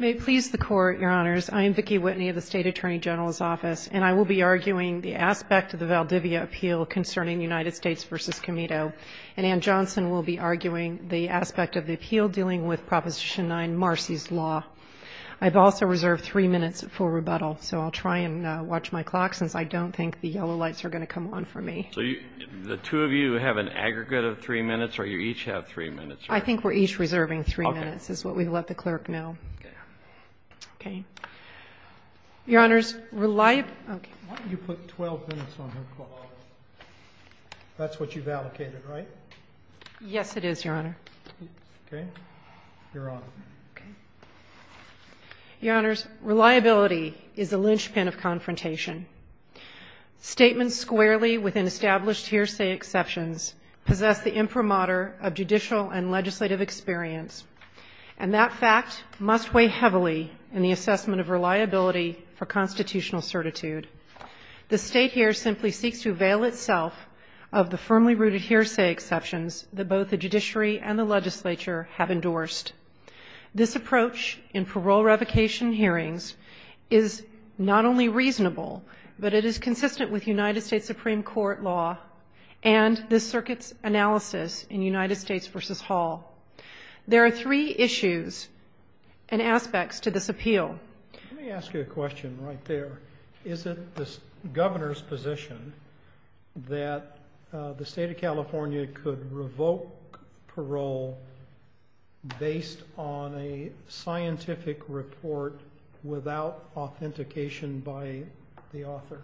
May it please the Court, Your Honors, I am Vicki Whitney of the State Attorney General's Office, and I will be arguing the aspect of the Valdivia appeal concerning United States v. Comito. And Anne Johnson will be arguing the aspect of the appeal dealing with Proposition 9, Marcy's Law. I've also reserved three minutes for rebuttal, so I'll try and watch my clock, since I don't think the yellow lights are going to come on for me. So the two of you have an aggregate of three minutes, or you each have three minutes? I think we're each reserving three minutes, is what we've let the clerk know. Okay. Your Honors, reliability... Why don't you put 12 minutes on her clock? That's what you've allocated, right? Yes, it is, Your Honor. Okay. You're on. Okay. Your Honors, reliability is a linchpin of confrontation. Statements squarely within established hearsay exceptions possess the imprimatur of judicial and legislative experience, and that fact must weigh heavily in the assessment of reliability for constitutional certitude. The State here simply seeks to avail itself of the firmly rooted hearsay exceptions that both the judiciary and the legislature have endorsed. This approach in parole revocation hearings is not only reasonable, but it is consistent with United States Supreme Court law, and this circuit's analysis in United States v. Hall. There are three issues and aspects to this appeal. Let me ask you a question right there. Is it the governor's position that the State of California could revoke parole based on a scientific report without authentication by the author?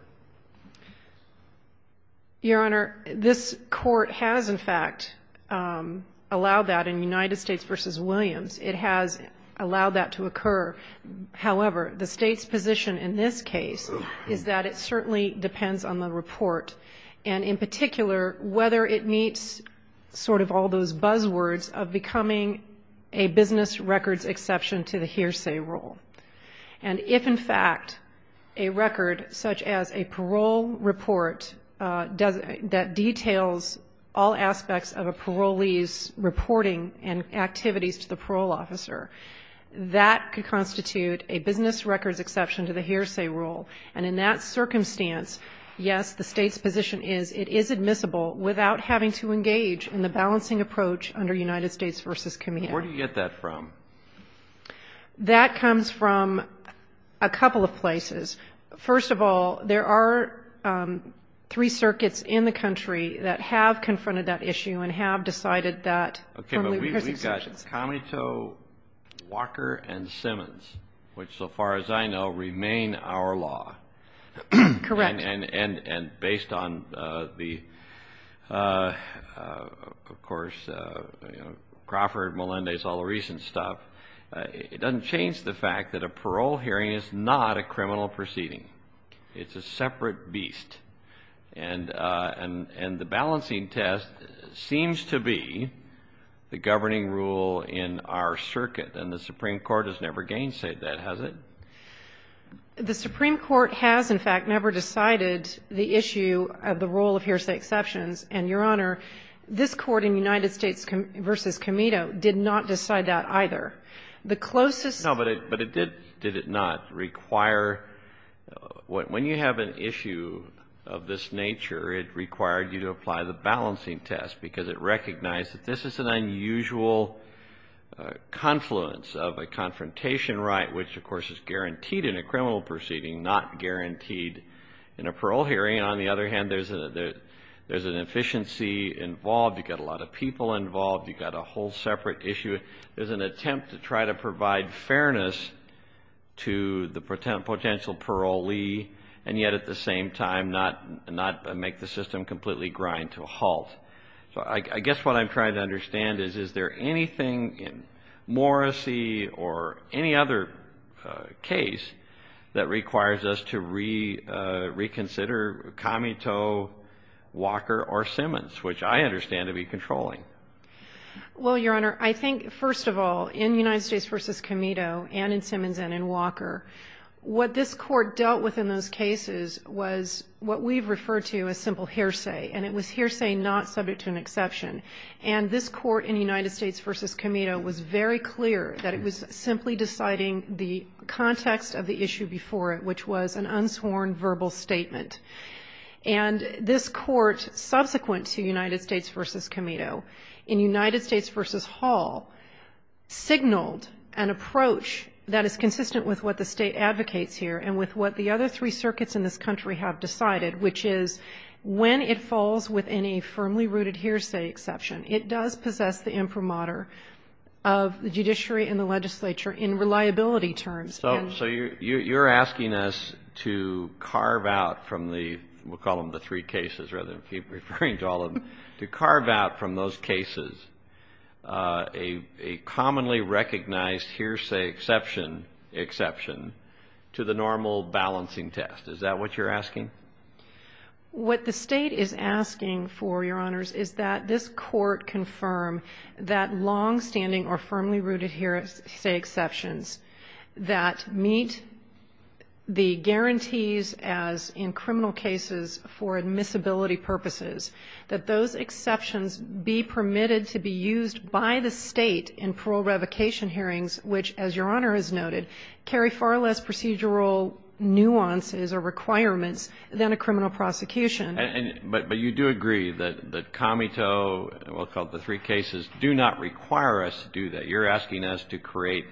Your Honor, this court has, in fact, allowed that in United States v. Williams. It has allowed that to occur. However, the State's position in this case is that it certainly depends on the report, and in particular, whether it meets sort of all those buzzwords of becoming a business records exception to the hearsay rule. And if, in fact, a record such as a parole report that details all aspects of a parolee's reporting and activities to the parole officer, that could constitute a business records exception to the hearsay rule. And in that circumstance, yes, the State's position is it is admissible without having to engage in the balancing approach under United States v. Camino. Where do you get that from? That comes from a couple of places. First of all, there are three circuits in the country that have confronted that issue and have decided that. Okay, but we've got Camito, Walker, and Simmons, which, so far as I know, remain our law. Correct. And based on the, of course, Crawford, Melendez, all the recent stuff, it doesn't change the fact that a parole hearing is not a criminal proceeding. It's a separate beast. And the balancing test seems to be the governing rule in our circuit, and the Supreme Court has never gainsaid that, has it? The Supreme Court has, in fact, never decided the issue of the role of hearsay exceptions. And, Your Honor, this Court in United States v. Camito did not decide that either. The closest to it. No, but it did not require, when you have an issue of this nature, it required you to apply the balancing test, because it recognized that this is an unusual confluence of a confrontation right, which, of course, is guaranteed in a criminal proceeding, not guaranteed in a parole hearing. On the other hand, there's an efficiency involved. You've got a lot of people involved. You've got a whole separate issue. There's an attempt to try to provide fairness to the potential parolee, and yet, I guess what I'm trying to understand is, is there anything in Morrissey or any other case that requires us to reconsider Camito, Walker, or Simmons, which I understand to be controlling? Well, Your Honor, I think, first of all, in United States v. Camito, and in Simmons, and in Walker, what this Court dealt with in those cases was what we've referred to as simple hearsay, and it was hearsay not subject to an exception. And this Court in United States v. Camito was very clear that it was simply deciding the context of the issue before it, which was an unsworn verbal statement. And this Court, subsequent to United States v. Camito, in United States v. Hall, signaled an approach that is consistent with what the State advocates here, and with what the other three circuits in this country have decided, which is when it falls within a firmly rooted hearsay exception, it does possess the imprimatur of the judiciary and the legislature in reliability terms. So you're asking us to carve out from the, we'll call them the three cases, rather than keep referring to all of them, to carve out from those cases a commonly recognized hearsay exception, exception, to the normal balancing test. Is that what you're asking? What the State is asking for, Your Honors, is that this Court confirm that longstanding or firmly rooted hearsay exceptions that meet the guarantees as in criminal cases for admissibility purposes, that those exceptions be permitted to be used by the State in parole revocation hearings, which, as Your Honor has noted, carry far less procedural nuances or requirements than a criminal prosecution. But you do agree that Camito, we'll call it the three cases, do not require us to do that. You're asking us to create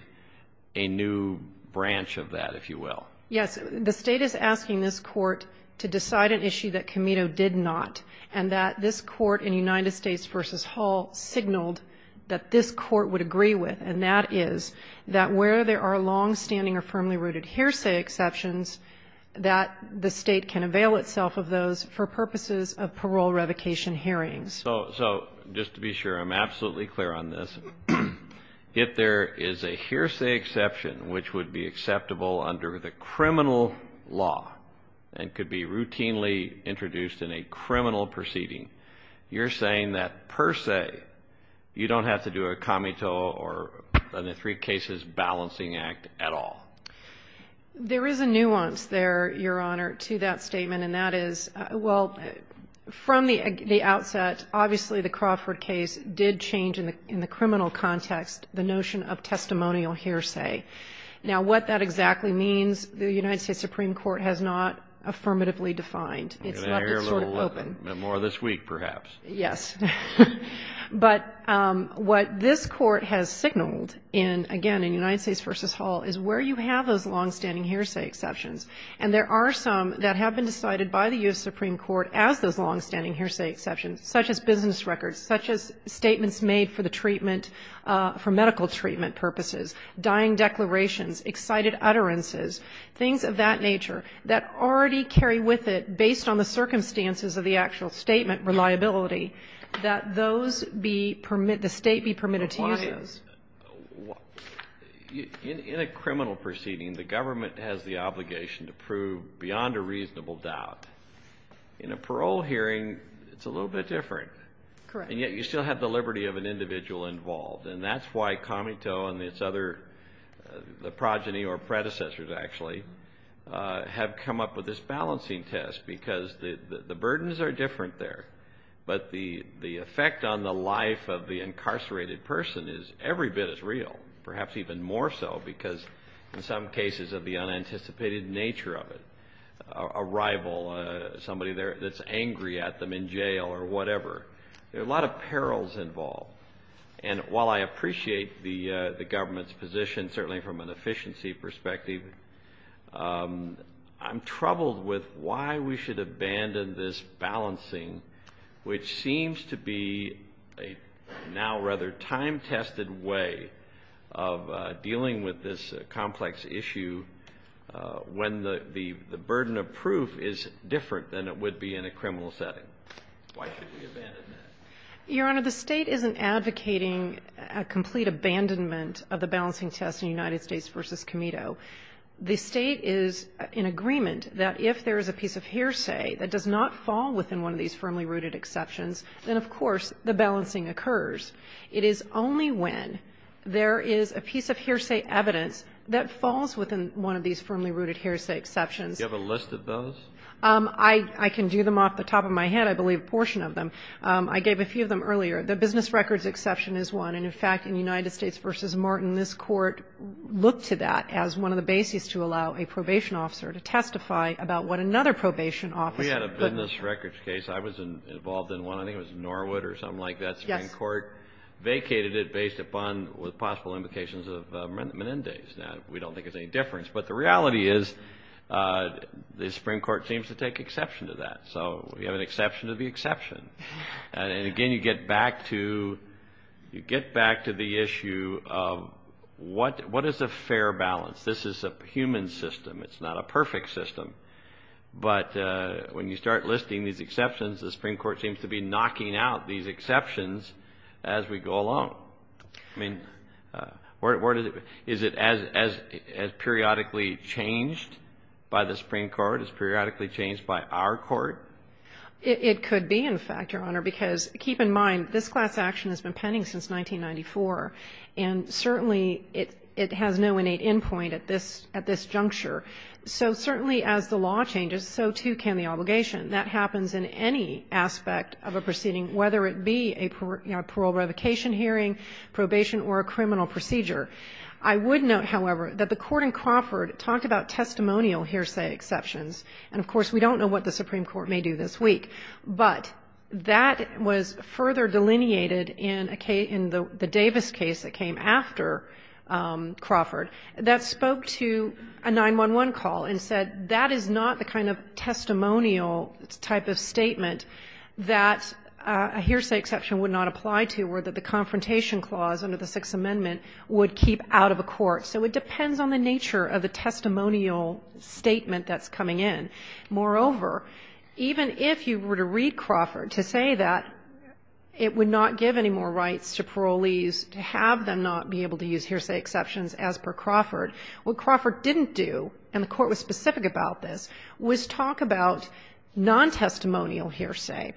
a new branch of that, if you will. Yes. The State is asking this Court to decide an issue that Camito did not, and that this Court in United States v. Hall signaled that this Court would agree with, and that is that where there are longstanding or firmly rooted hearsay exceptions, that the State can avail itself of those for purposes of parole revocation hearings. So just to be sure, I'm absolutely clear on this. If there is a hearsay exception which would be acceptable under the criminal law and could be routinely introduced in a criminal proceeding, you're saying that per se, you don't have to do a Camito or a three cases balancing act at all. There is a nuance there, Your Honor, to that statement, and that is, well, from the outset, obviously the Crawford case did change in the criminal context the notion of testimonial hearsay. Now, what that exactly means, the United States Supreme Court has not affirmatively defined. It's not been sort of open. More this week, perhaps. Yes, but what this Court has signaled in, again, in United States v. Hall is where you have those longstanding hearsay exceptions, and there are some that have been decided by the U.S. Supreme Court as those longstanding hearsay exceptions, such as business records, such as statements made for the treatment, for medical treatment purposes, dying declarations, excited utterances, things of that nature that already carry with it based on the credibility, that those be permitted, the State be permitted to use those. In a criminal proceeding, the government has the obligation to prove beyond a reasonable doubt. In a parole hearing, it's a little bit different, and yet you still have the liberty of an individual involved, and that's why Camito and its other, the progeny or predecessors, actually, have come up with this balancing test, because the burdens are different there, but the effect on the life of the incarcerated person is every bit as real, perhaps even more so, because in some cases of the unanticipated nature of it, a rival, somebody that's angry at them in jail or whatever, there are a lot of perils involved. And while I appreciate the government's position, certainly from an efficiency perspective, I'm troubled with why we should abandon this balancing, which seems to be a now rather time-tested way of dealing with this complex issue, when the burden of proof is different than it would be in a criminal setting. Why should we abandon that? Your Honor, the State isn't advocating a complete abandonment of the balancing test in United States v. Camito. If there is a piece of hearsay that does not fall within one of these firmly-rooted exceptions, then, of course, the balancing occurs. It is only when there is a piece of hearsay evidence that falls within one of these firmly-rooted hearsay exceptions. Do you have a list of those? I can do them off the top of my head. I believe a portion of them. I gave a few of them earlier. The business records exception is one, and, in fact, in United States v. Martin, this Court looked to that as one of the basis for the exception. We had a business records case. I was involved in one. I think it was in Norwood or something like that. The Supreme Court vacated it based upon the possible implications of Menendez. We don't think there is any difference, but the reality is the Supreme Court seems to take exception to that, so we have an exception to the exception. Again, you get back to the issue of what is a fair balance. This is a human system. It's not a perfect system, but when you start listing these exceptions, the Supreme Court seems to be knocking out these exceptions as we go along. Is it as periodically changed by the Supreme Court, as periodically changed by our Court? It could be, in fact, Your Honor, because keep in mind this class action has been pending since 1994, and certainly it has no innate end point at this juncture. So certainly as the law changes, so too can the obligation. That happens in any aspect of a proceeding, whether it be a parole revocation hearing, probation, or a criminal procedure. I would note, however, that the Court in Crawford talked about testimonial hearsay exceptions, and, of course, we don't know what the Supreme Court may do this week, but that was further delineated in the Davis case that came after Crawford. That spoke to a 911 call and said that is not the kind of testimonial type of statement that a hearsay exception would not apply to or that the confrontation clause under the Sixth Amendment would keep out of a court. So it depends on the nature of the testimonial statement that's coming in. Moreover, even if you were to read Crawford to say that it would not give any more rights to parolees to have them not be able to use hearsay exceptions as per Crawford, what Crawford didn't do, and the Court was specific about this, was talk about non-testimonial hearsay.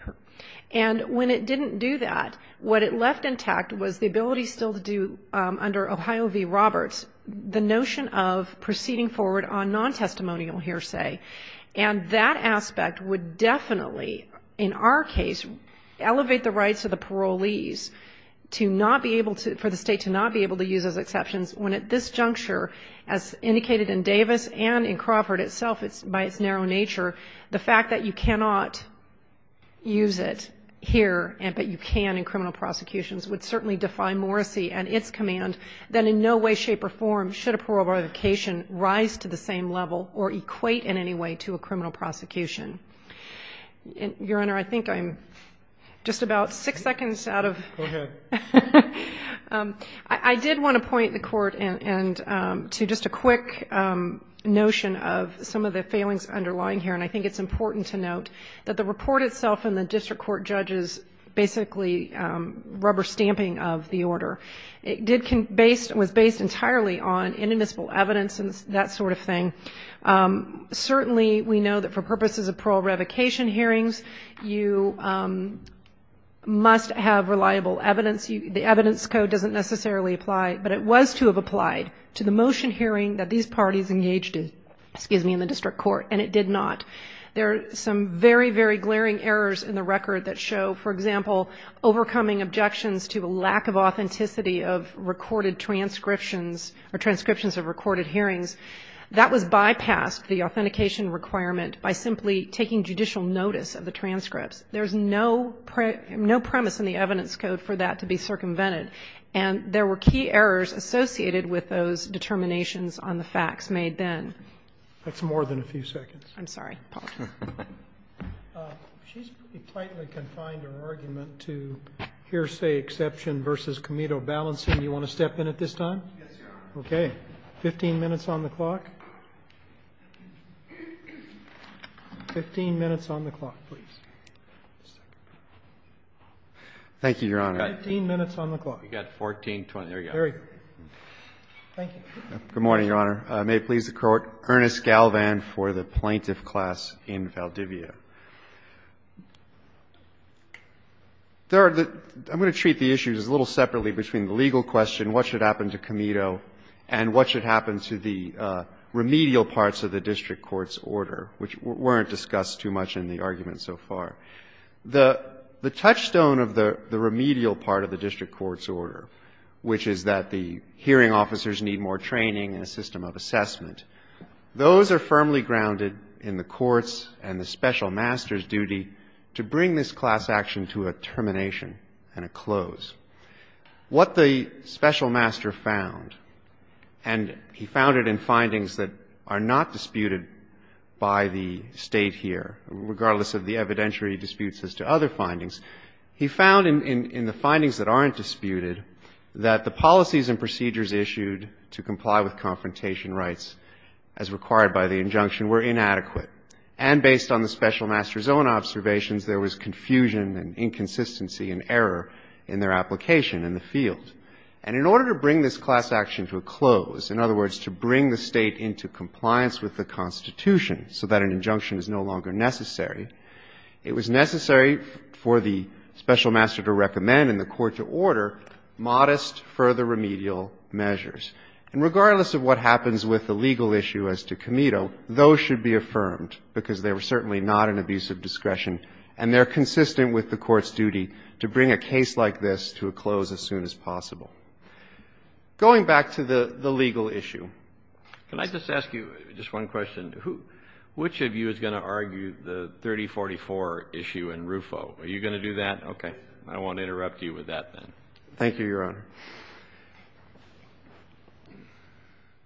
And when it didn't do that, what it left intact was the ability still to do under Ohio v. Roberts the notion of proceeding forward on non-testimonial hearsay, and that aspect would definitely, in our case, elevate the rights of the parolees to not be able to, for the State to not be able to use those exceptions, when at this juncture, as indicated in Davis and in Crawford itself, by its narrow nature, the fact that you cannot use it here, but you can in criminal prosecutions, would certainly defy Morrissey and its command, that in no way, shape, or form should a parole revocation rise to the same level or equate in any way to a criminal prosecution. Your Honor, I think I'm just about six seconds out of... Go ahead. I did want to point the Court to just a quick notion of some of the failings underlying here, and I think it's important to note that the report itself and the district court judge's basically rubber stamping of the order was based entirely on inadmissible evidence and that sort of thing. Certainly we know that for purposes of parole revocation hearings, you must have reliable evidence. The evidence code doesn't necessarily apply, but it was to have applied to the motion hearing that these parties engaged in, excuse me, in the district court, and it did not. There are some very, very glaring errors in the record that show, for example, overcoming objections to a lack of authenticity of recorded transcriptions or transcriptions of recorded hearings. That was bypassed, the authentication requirement, by simply taking judicial notice of the transcripts. There's no premise in the evidence code for that to be circumvented, and there were key errors associated with those determinations on the facts made then. That's more than a few seconds. I'm sorry. She's pretty tightly confined her argument to hearsay exception versus comedo balancing. Do you want to step in at this time? Yes, Your Honor. Okay. 15 minutes on the clock. 15 minutes on the clock, please. Thank you, Your Honor. 15 minutes on the clock. You've got 14, 20. There you go. Thank you. Good morning, Your Honor. May it please the Court. Ernest Galvan for the Plaintiff Class in Valdivia. Third, I'm going to treat the issues a little separately between the legal question, what should happen to comedo, and what should happen to the remedial parts of the district court's order, which weren't discussed too much in the argument so far. The touchstone of the remedial part of the district court's order, which is that the hearing officers need more training and a system of assessment, those are firmly grounded in the court's and the special master's duty to bring this class action to a termination and a close. What the special master found, and he found it in findings that are not disputed by the State here, regardless of the evidentiary disputes as to other findings, he found in the findings that aren't disputed that the policies and procedures issued to comply with confrontation rights as required by the injunction were inadequate. And based on the special master's own observations, there was confusion and inconsistency and error in their application in the field. And in order to bring this class action to a close, in other words, to bring the State into compliance with the Constitution so that an injunction is no longer necessary, it was necessary for the special master to recommend and the court to order modest further remedial measures. And regardless of what happens with the legal issue as to Comito, those should be affirmed because they were certainly not an abuse of discretion and they're consistent with the court's duty to bring a case like this to a close as soon as possible. Going back to the legal issue, can I just ask you just one question? Which of you is going to argue the 3044 issue in RUFO? Are you going to do that? Okay. I won't interrupt you with that, then. Thank you, Your Honor.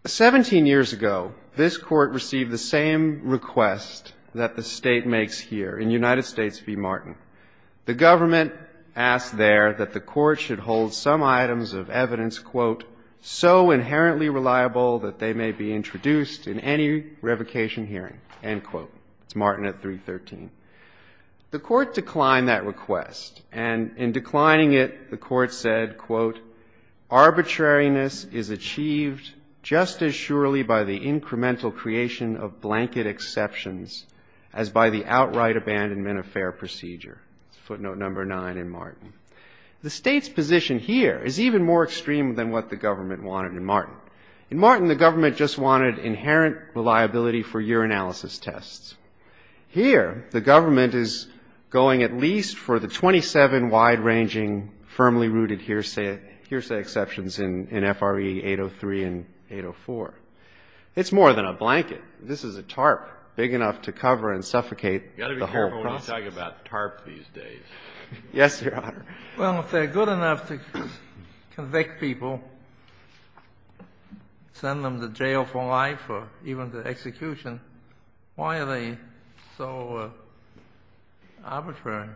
17 years ago, this Court received the same request that the State makes here in United States v. Martin. The government asked there that the Court should hold some items of evidence, quote, so inherently reliable that they may be introduced in any revocation hearing, end quote. It's Martin at 313. The Court declined that request, and in declining it, the Court said, quote, arbitrariness is achieved just as surely by the incremental creation of blanket exceptions as by the outright abandonment of fair procedure. Footnote number nine in Martin. The State's position here is even more extreme than what the government wanted in Martin. In Martin, the government just wanted inherent reliability for urinalysis tests. Here, the government is going at least for the 27 wide-ranging, firmly rooted hearsay exceptions in F.R.E. 803 and 804. It's more than a blanket. This is a tarp big enough to cover and suffocate the whole process. You've got to be careful when you talk about tarp these days. Yes, Your Honor. Well, if they're good enough to convict people, send them to jail for life or even to execution, why are they so arbitrary?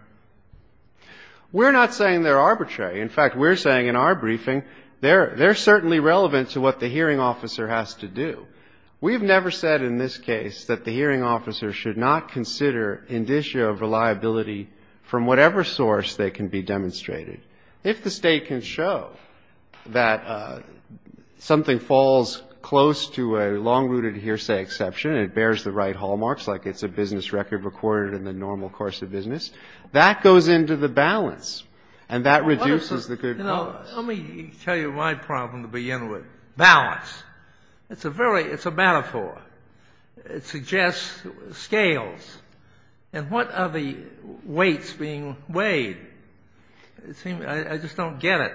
We're not saying they're arbitrary. In fact, we're saying in our briefing they're certainly relevant to what the hearing officer has to do. We've never said in this case that the hearing officer has to do anything. But if the State can show that something falls close to a long-rooted hearsay exception and it bears the right hallmarks, like it's a business record recorded in the normal course of business, that goes into the balance, and that reduces the good cause. Let me tell you my problem to begin with, balance. It's a very — it's a metaphor. It suggests scales. And what are the weights being weighed? It seems I just don't get it.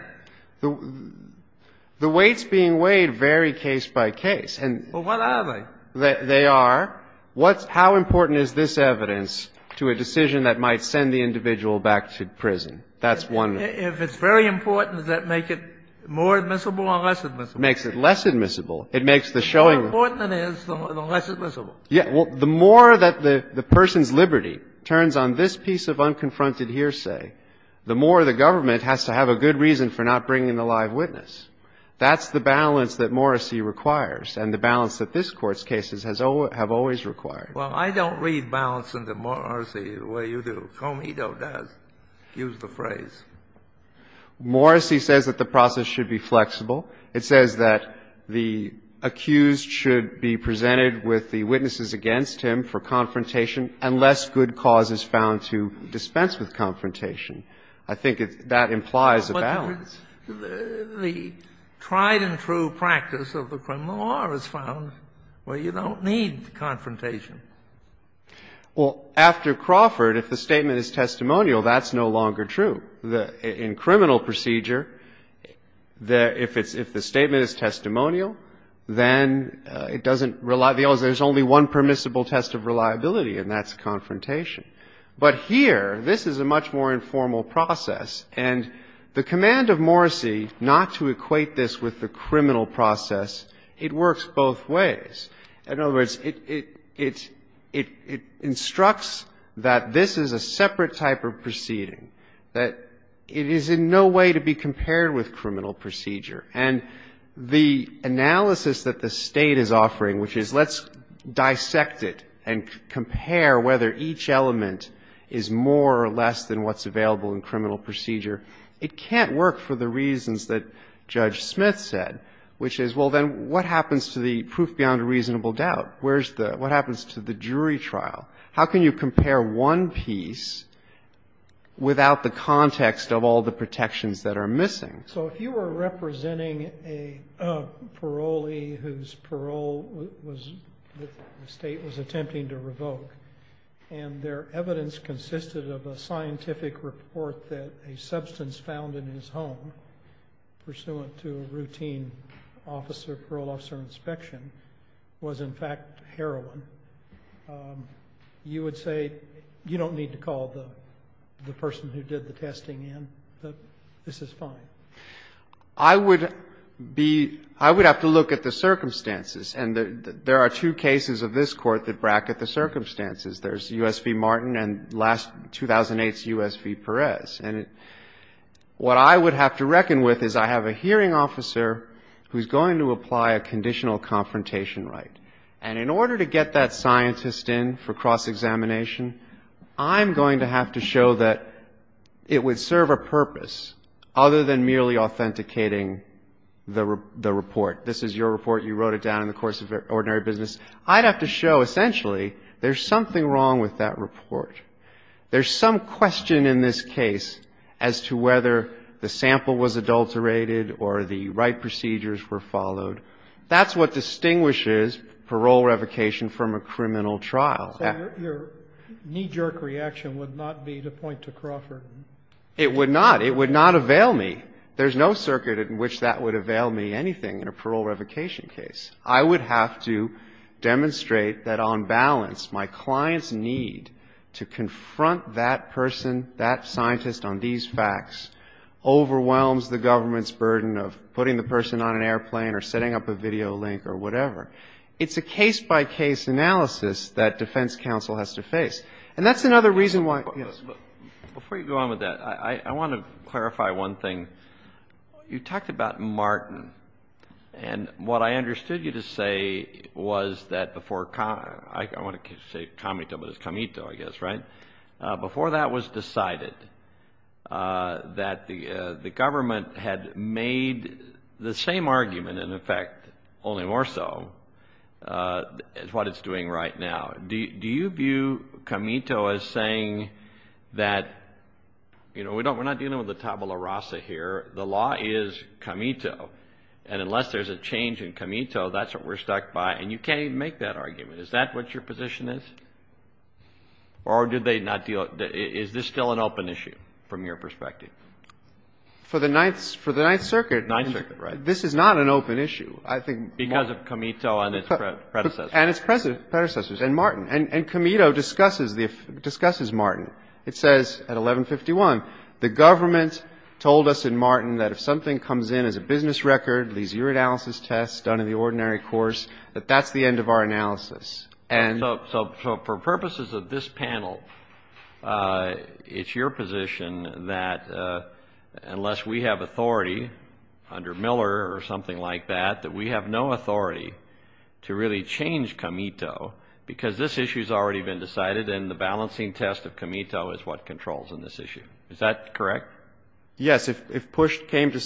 The weights being weighed vary case by case. Well, what are they? They are what's — how important is this evidence to a decision that might send the individual back to prison? That's one. If it's very important, does that make it more admissible or less admissible? It makes it less admissible. It makes the showing — The more important it is, the less admissible. Yeah. Well, the more that the person's liberty turns on this piece of unconfronted hearsay, the more the government has to have a good reason for not bringing the live witness. That's the balance that Morrissey requires and the balance that this Court's cases have always required. Well, I don't read balance in the Morrissey way you do. Comito does use the phrase. Morrissey says that the process should be flexible. It says that the accused should be presented with the witnesses against him for confrontation unless good cause is found to dispense with confrontation. I think that implies a balance. But the tried-and-true practice of the criminal law is found where you don't need confrontation. Well, after Crawford, if the statement is testimonial, that's no longer true. In criminal procedure, if the statement is testimonial, then it doesn't rely — there's only one permissible test of reliability, and that's confrontation. But here, this is a much more informal process. And the command of Morrissey not to equate this with the criminal process, it works both ways. In other words, it instructs that this is a separate type of proceeding, that the evidence is different, that it is in no way to be compared with criminal procedure. And the analysis that the State is offering, which is let's dissect it and compare whether each element is more or less than what's available in criminal procedure, it can't work for the reasons that Judge Smith said, which is, well, then what happens to the proof beyond a reasonable doubt? What happens to the jury trial? How can you compare one piece without the context of all the protections that are missing? So if you were representing a parolee whose parole was — the State was attempting to revoke, and their evidence consisted of a scientific report that a substance found in his home, pursuant to a routine officer, parole officer inspection, was in fact heroin, you would say you don't need to call the person who did the testing in, that this is fine? I would be — I would have to look at the circumstances. And there are two cases of this Court that bracket the circumstances. There's U.S. v. Martin and last — 2008's U.S. v. Perez. And what I would have to reckon with is I have a hearing officer who's going to apply a conditional confrontation right. And in order to get that scientist in for cross-examination, I'm going to have to show that it would serve a purpose other than merely authenticating the report. This is your report. You wrote it down in the course of Ordinary Business. I'd have to show, essentially, there's something wrong with that report. There's some question in this case as to whether the sample was adulterated or the right procedures were followed. That's what distinguishes parole revocation from a criminal trial. So your knee-jerk reaction would not be to point to Crawford? It would not. It would not avail me. There's no circuit in which that would avail me anything in a parole revocation case. I would have to demonstrate that on balance my client's need to confront that person, that scientist on these facts, overwhelms the government's burden of putting the person on an airplane or setting up a video link or whatever. It's a case-by-case analysis that defense counsel has to face. And that's another reason why yes. Before you go on with that, I want to clarify one thing. You talked about Martin. And what I understood you to say was that before I want to say Comito, but it's Comito, I guess, right? Before that was decided that the government had made the same argument, in effect, only more so, is what it's doing right now. Do you view Comito as saying that, you know, we're not dealing with a tabula rasa here. The law is Comito. And unless there's a change in Comito, that's what we're stuck by. And you can't even make that argument. Is that what your position is? Or is this still an open issue from your perspective? For the Ninth Circuit, this is not an open issue. Because of Comito and its predecessors. And its predecessors. And Martin. And Comito discusses Martin. It says at 1151, the government told us in Martin that if something comes in as a business record, leaves your analysis test, done in the ordinary course, that that's the end of our analysis. So for purposes of this panel, it's your position that unless we have authority under Miller or something like that, that we have no authority to really change Comito. Because this issue has already been decided. And the balancing test of Comito is what controls in this issue. Is that correct? Yes. If push came to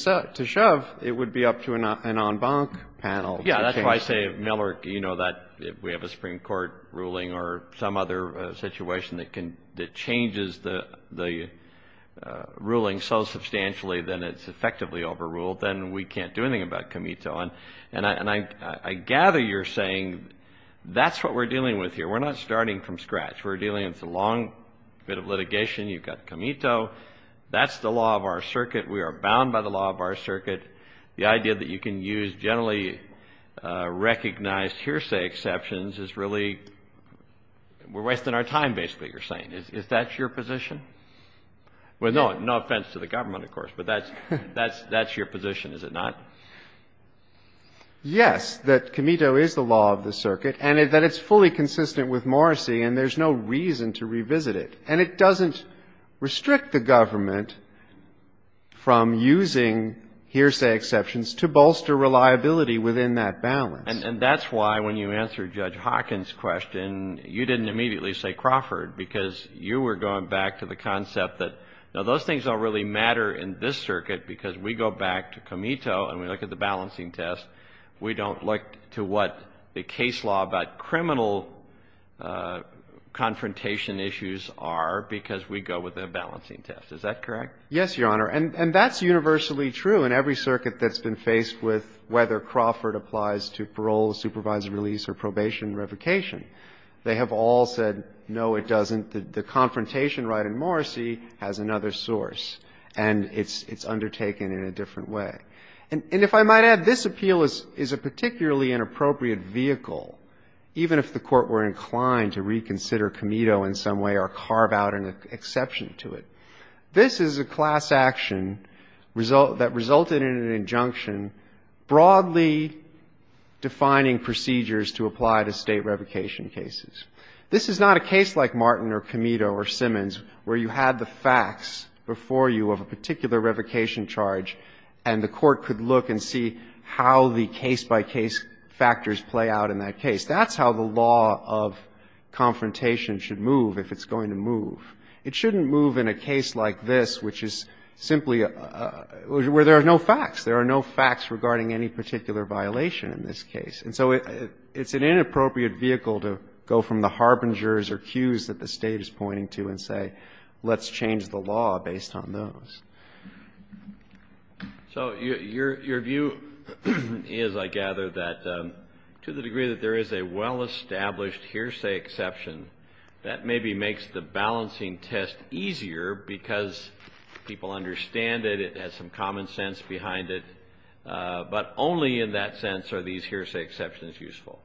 shove, it would be up to an en banc panel. Yeah, that's why I say, Miller, you know that if we have a Supreme Court ruling or some other situation that changes the ruling so substantially that it's effectively overruled, then we can't do anything about Comito. And I gather you're saying that's what we're dealing with here. We're not starting from scratch. We're dealing with a long bit of litigation. You've got Comito. That's the law of our circuit. We are bound by the law of our circuit. The idea that you can use generally recognized hearsay exceptions is really we're wasting our time, basically, you're saying. Is that your position? Well, no offense to the government, of course, but that's your position, is it not? Yes, that Comito is the law of the circuit and that it's fully consistent with Morrissey and there's no reason to revisit it. And it doesn't restrict the government from using hearsay exceptions to bolster reliability within that balance. And that's why when you answered Judge Hawkins' question, you didn't immediately say Crawford because you were going back to the concept that, no, those things don't really matter in this circuit because we go back to Comito and we look at the balancing test. We don't look to what the case law about criminal confrontation issues are because we go with a balancing test. Is that correct? Yes, Your Honor. And that's universally true in every circuit that's been faced with whether Crawford applies to parole, supervised release or probation revocation. They have all said, no, it doesn't. The confrontation right in Morrissey has another source and it's undertaken in a different way. And if I might add, this appeal is a particularly inappropriate vehicle, even if the Court were inclined to reconsider Comito in some way or carve out an exception to it. This is a class action that resulted in an injunction broadly defining procedures to apply to State revocation cases. This is not a case like Martin or Comito or Simmons where you had the facts before you of a particular revocation charge and the Court could look and see how the case-by-case factors play out in that case. That's how the law of confrontation should move if it's going to move. It shouldn't move in a case like this, which is simply where there are no facts. There are no facts regarding any particular violation in this case. And so it's an inappropriate vehicle to go from the harbingers or cues that the State is pointing to and say let's change the law based on those. So your view is, I gather, that to the degree that there is a well-established hearsay exception, that maybe makes the balancing test easier because people understand it, it has some common sense behind it, but only in that sense are these hearsay exceptions useful.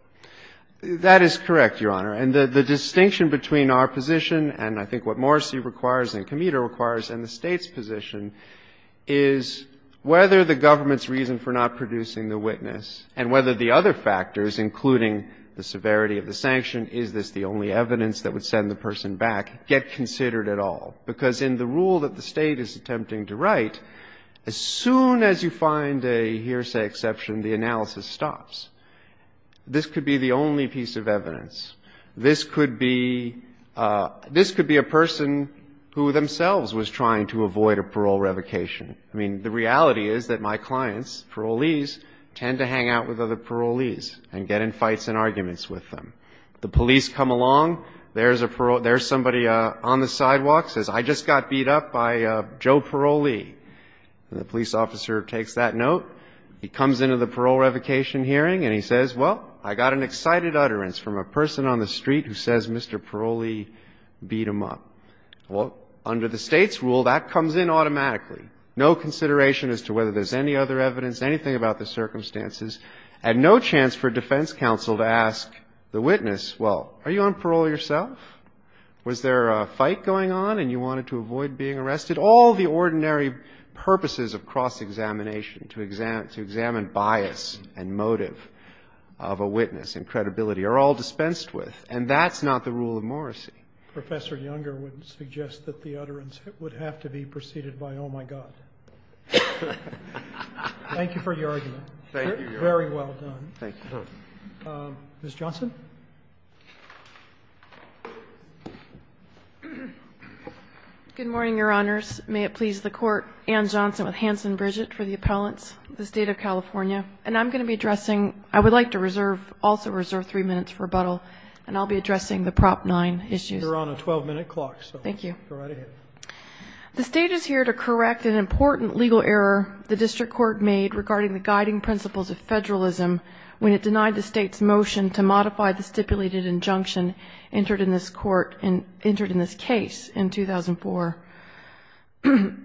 That is correct, Your Honor. And the distinction between our position and I think what Morrissey requires and Comito requires and the State's position is whether the government's reason for not producing the witness and whether the other factors, including the severity of the sanction, is this the only evidence that would send the person back, get considered at all. Because in the rule that the State is attempting to write, as soon as you find a hearsay exception, the analysis stops. This could be the only piece of evidence. This could be a person who themselves was trying to avoid a parole revocation. I mean, the reality is that my clients, parolees, tend to hang out with other parolees and get in fights and arguments with them. The police come along. There's somebody on the sidewalk who says I just got beat up by a Joe parolee. And the police officer takes that note. He comes into the parole revocation hearing and he says, well, I got an excited utterance from a person on the street who says Mr. Parolee beat him up. Well, under the State's rule, that comes in automatically, no consideration as to whether there's any other evidence, anything about the circumstances and no chance for defense counsel to ask the witness, well, are you on parole yourself? Was there a fight going on and you wanted to avoid being arrested? All the ordinary purposes of cross-examination to examine bias and motive of a witness and credibility are all dispensed with. And that's not the rule of Morrissey. Roberts. Professor Younger would suggest that the utterance would have to be preceded by oh, my God. Thank you for your argument. Thank you, Your Honor. Very well done. Thank you. Ms. Johnson. Good morning, Your Honors. May it please the Court. Anne Johnson with Hanson Bridget for the Appellants, the State of California. And I'm going to be addressing, I would like to reserve, also reserve three minutes for rebuttal, and I'll be addressing the Prop 9 issues. You're on a 12-minute clock. Thank you. Go right ahead. The State is here to correct an important legal error the District Court made to modify the statute of limitations. And to modify the stipulated injunction entered in this case in 2004.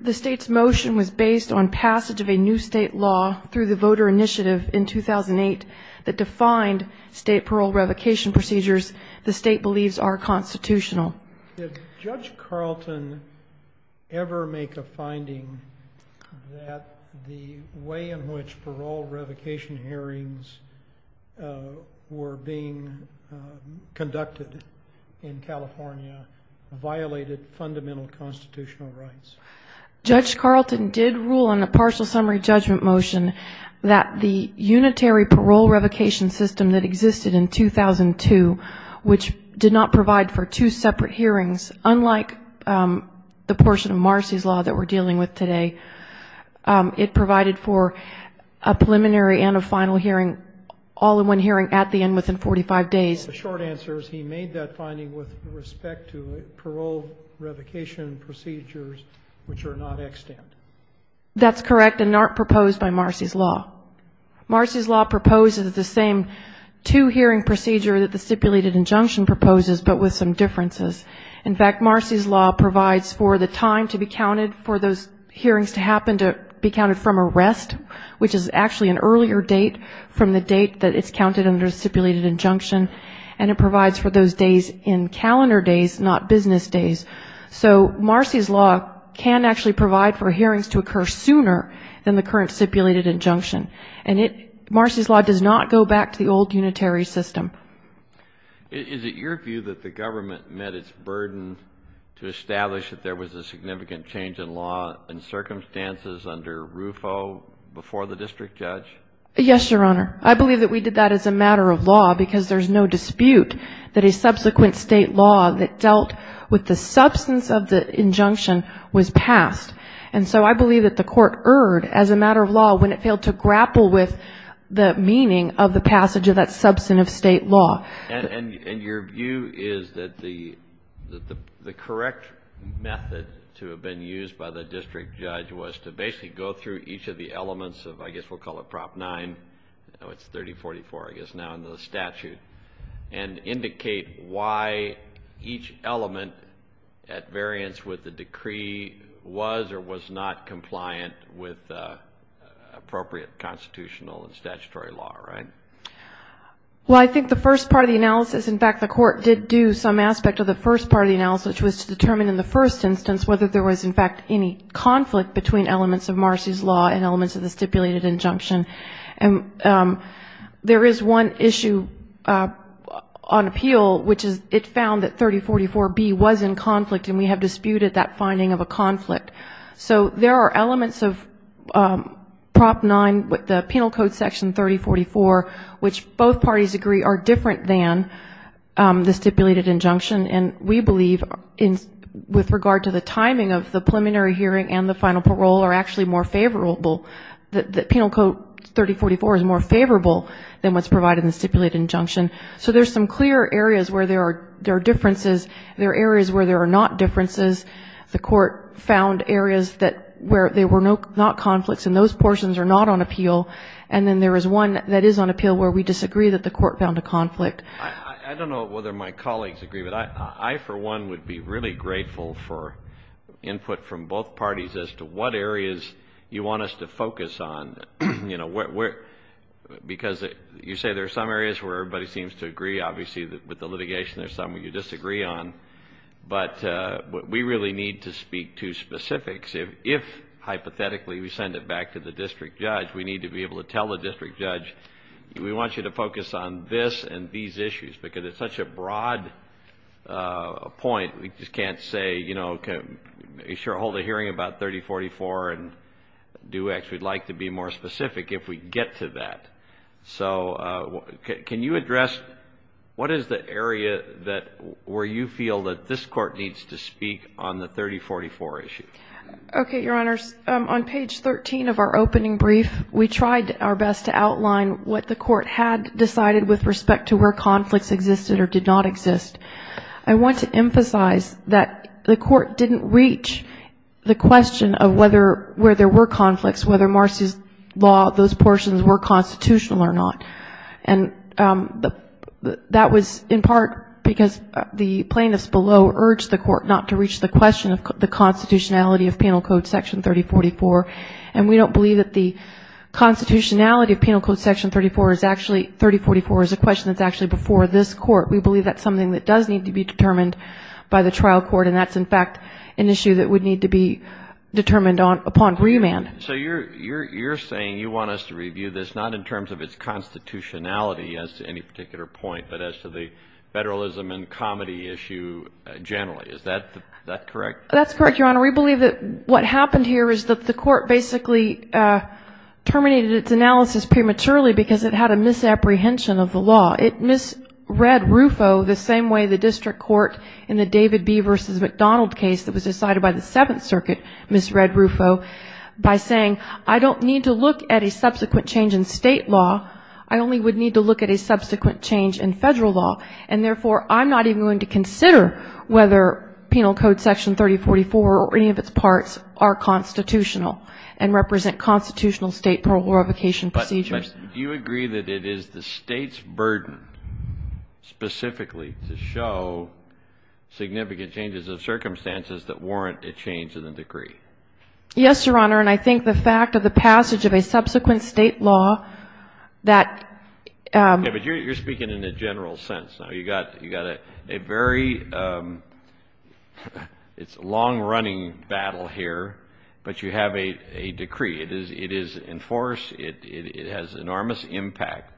The State's motion was based on passage of a new State law through the voter initiative in 2008 that defined State parole revocation procedures the State believes are constitutional. Did Judge Carlton ever make a finding that the way in which parole revocation hearings were being conducted in California violated fundamental constitutional rights? Judge Carlton did rule on a partial summary judgment motion that the unitary parole revocation system that existed in 2002, which did not provide for two separate hearings, unlike the portion of Marcy's law that we're dealing with now, which provides for a final hearing, all-in-one hearing at the end within 45 days. The short answer is he made that finding with respect to parole revocation procedures which are not extant. That's correct, and not proposed by Marcy's law. Marcy's law proposes the same two-hearing procedure that the stipulated injunction proposes, but with some differences. In fact, Marcy's law provides for the time to be counted for those hearings to happen to be counted from arrest, which is actually an earlier date from the date that it's counted under stipulated injunction, and it provides for those days in calendar days, not business days. So Marcy's law can actually provide for hearings to occur sooner than the current stipulated injunction. And Marcy's law does not go back to the old unitary system. Is it your view that the government met its burden to establish that there was a statute of limitations under RUFO before the district judge? Yes, Your Honor. I believe that we did that as a matter of law because there's no dispute that a subsequent state law that dealt with the substance of the injunction was passed. And so I believe that the Court erred as a matter of law when it failed to grapple with the meaning of the passage of that substantive state law. And your view is that the correct method to have been used by the district judge was to basically go through each of the elements of I guess we'll call it Prop 9, it's 3044 I guess now in the statute, and indicate why each element at variance with the decree was or was not compliant with appropriate constitutional and statutory law, right? Well, I think the first part of the analysis, in fact, the Court did do some aspect of the first part of the analysis, which was to determine in the first instance whether there was, in fact, any conflict between elements of Marcy's law and elements of the stipulated injunction. And there is one issue on appeal, which is it found that 3044B was in conflict and we have disputed that finding of a conflict. So there are elements of Prop 9, the Penal Code Section 3044, which both parties agree are different than the stipulated injunction. And we believe with regard to the timing of the preliminary hearing and the final parole are actually more favorable. The Penal Code 3044 is more favorable than what's provided in the stipulated injunction. So there's some clear areas where there are differences. There are areas where there are not differences. The Court found areas where there were not conflicts, and those portions are not on appeal. And then there is one that is on appeal where we disagree that the Court found a conflict. I don't know whether my colleagues agree, but I, for one, would be really grateful for input from both parties as to what areas you want us to focus on, you know, because you say there are some areas where everybody seems to agree. Obviously, with the litigation, there's some you disagree on. But we really need to speak to specifics. If, hypothetically, we send it back to the district judge, we need to be able to tell the district judge, we want you to focus on this and these issues because it's such a broad point. We just can't say, you know, hold a hearing about 3044 and do X. We'd like to be more specific if we get to that. So can you address what is the area where you feel that this Court needs to speak on the 3044 issue? Okay, Your Honors. On page 13 of our opening brief, we tried our best to outline what the Court had decided with respect to where conflicts existed or did not exist. I want to emphasize that the Court didn't reach the question of whether where there were conflicts, whether Marcy's law, those portions were constitutional or not. And that was in part because the plaintiffs below urged the Court not to reach the question of the constitutionality of Penal Code Section 3044. And we don't believe that the constitutionality of Penal Code Section 3044 is a question that's actually before this Court. We believe that's something that does need to be determined by the trial court, and that's, in fact, an issue that would need to be determined upon remand. So you're saying you want us to review this not in terms of its constitutionality as to any particular point, but as to the federalism and comedy issue generally. Is that correct? That's correct, Your Honor. We believe that what happened here is that the Court basically terminated its analysis prematurely because it had a misapprehension of the law. It misread RUFO the same way the district court in the David B. v. McDonald case that was decided by the Seventh Circuit misread RUFO by saying, I don't need to look at a subsequent change in state law. I only would need to look at a subsequent change in federal law. And, therefore, I'm not even going to consider whether Penal Code Section 3044 or any of its parts are constitutional and represent constitutional state proclamation procedures. Do you agree that it is the state's burden specifically to show significant changes of circumstances that warrant a change in the decree? Yes, Your Honor, and I think the fact of the passage of a subsequent state law that ---- Okay, but you're speaking in a general sense. You've got a very long-running battle here, but you have a decree. It is in force. It has enormous impact.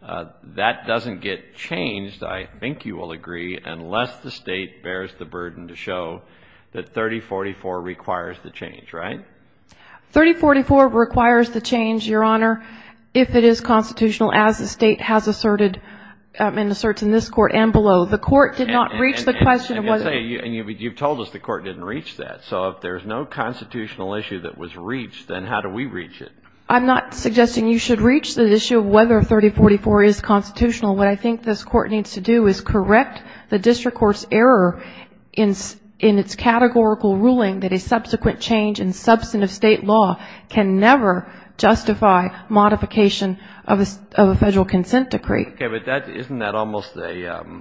That doesn't get changed, I think you will agree, unless the state bears the burden to show that 3044 requires the change, right? 3044 requires the change, Your Honor, if it is constitutional as the state has asserted and asserts in this Court and below. The Court did not reach the question of whether ---- And you've told us the Court didn't reach that. So if there's no constitutional issue that was reached, then how do we reach it? I'm not suggesting you should reach the issue of whether 3044 is constitutional. What I think this Court needs to do is correct the district court's error in its categorical ruling that a subsequent change in substantive state law can never justify modification of a federal consent decree. Okay, but isn't that almost an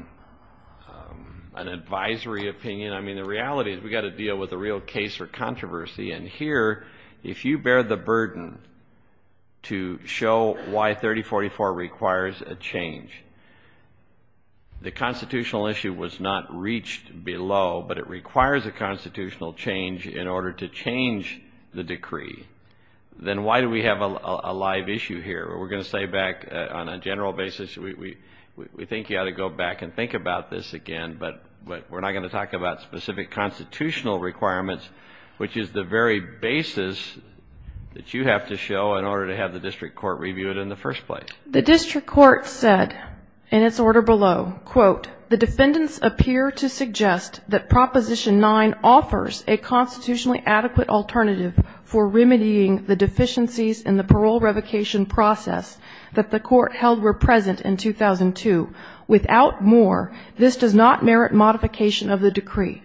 advisory opinion? I mean, the reality is we've got to deal with a real case for controversy. And here, if you bear the burden to show why 3044 requires a change, the constitutional issue was not reached below, but it requires a constitutional change in order to change the decree, then why do we have a live issue here? We're going to say back on a general basis we think you ought to go back and think about this again, but we're not going to talk about specific constitutional requirements, which is the very basis that you have to show in order to have the district court review it in the first place. The district court said in its order below, quote, the defendants appear to suggest that Proposition 9 offers a constitutionally adequate alternative for remedying the deficiencies in the parole revocation process that the court held were present in 2002. Without more, this does not merit modification of the decree.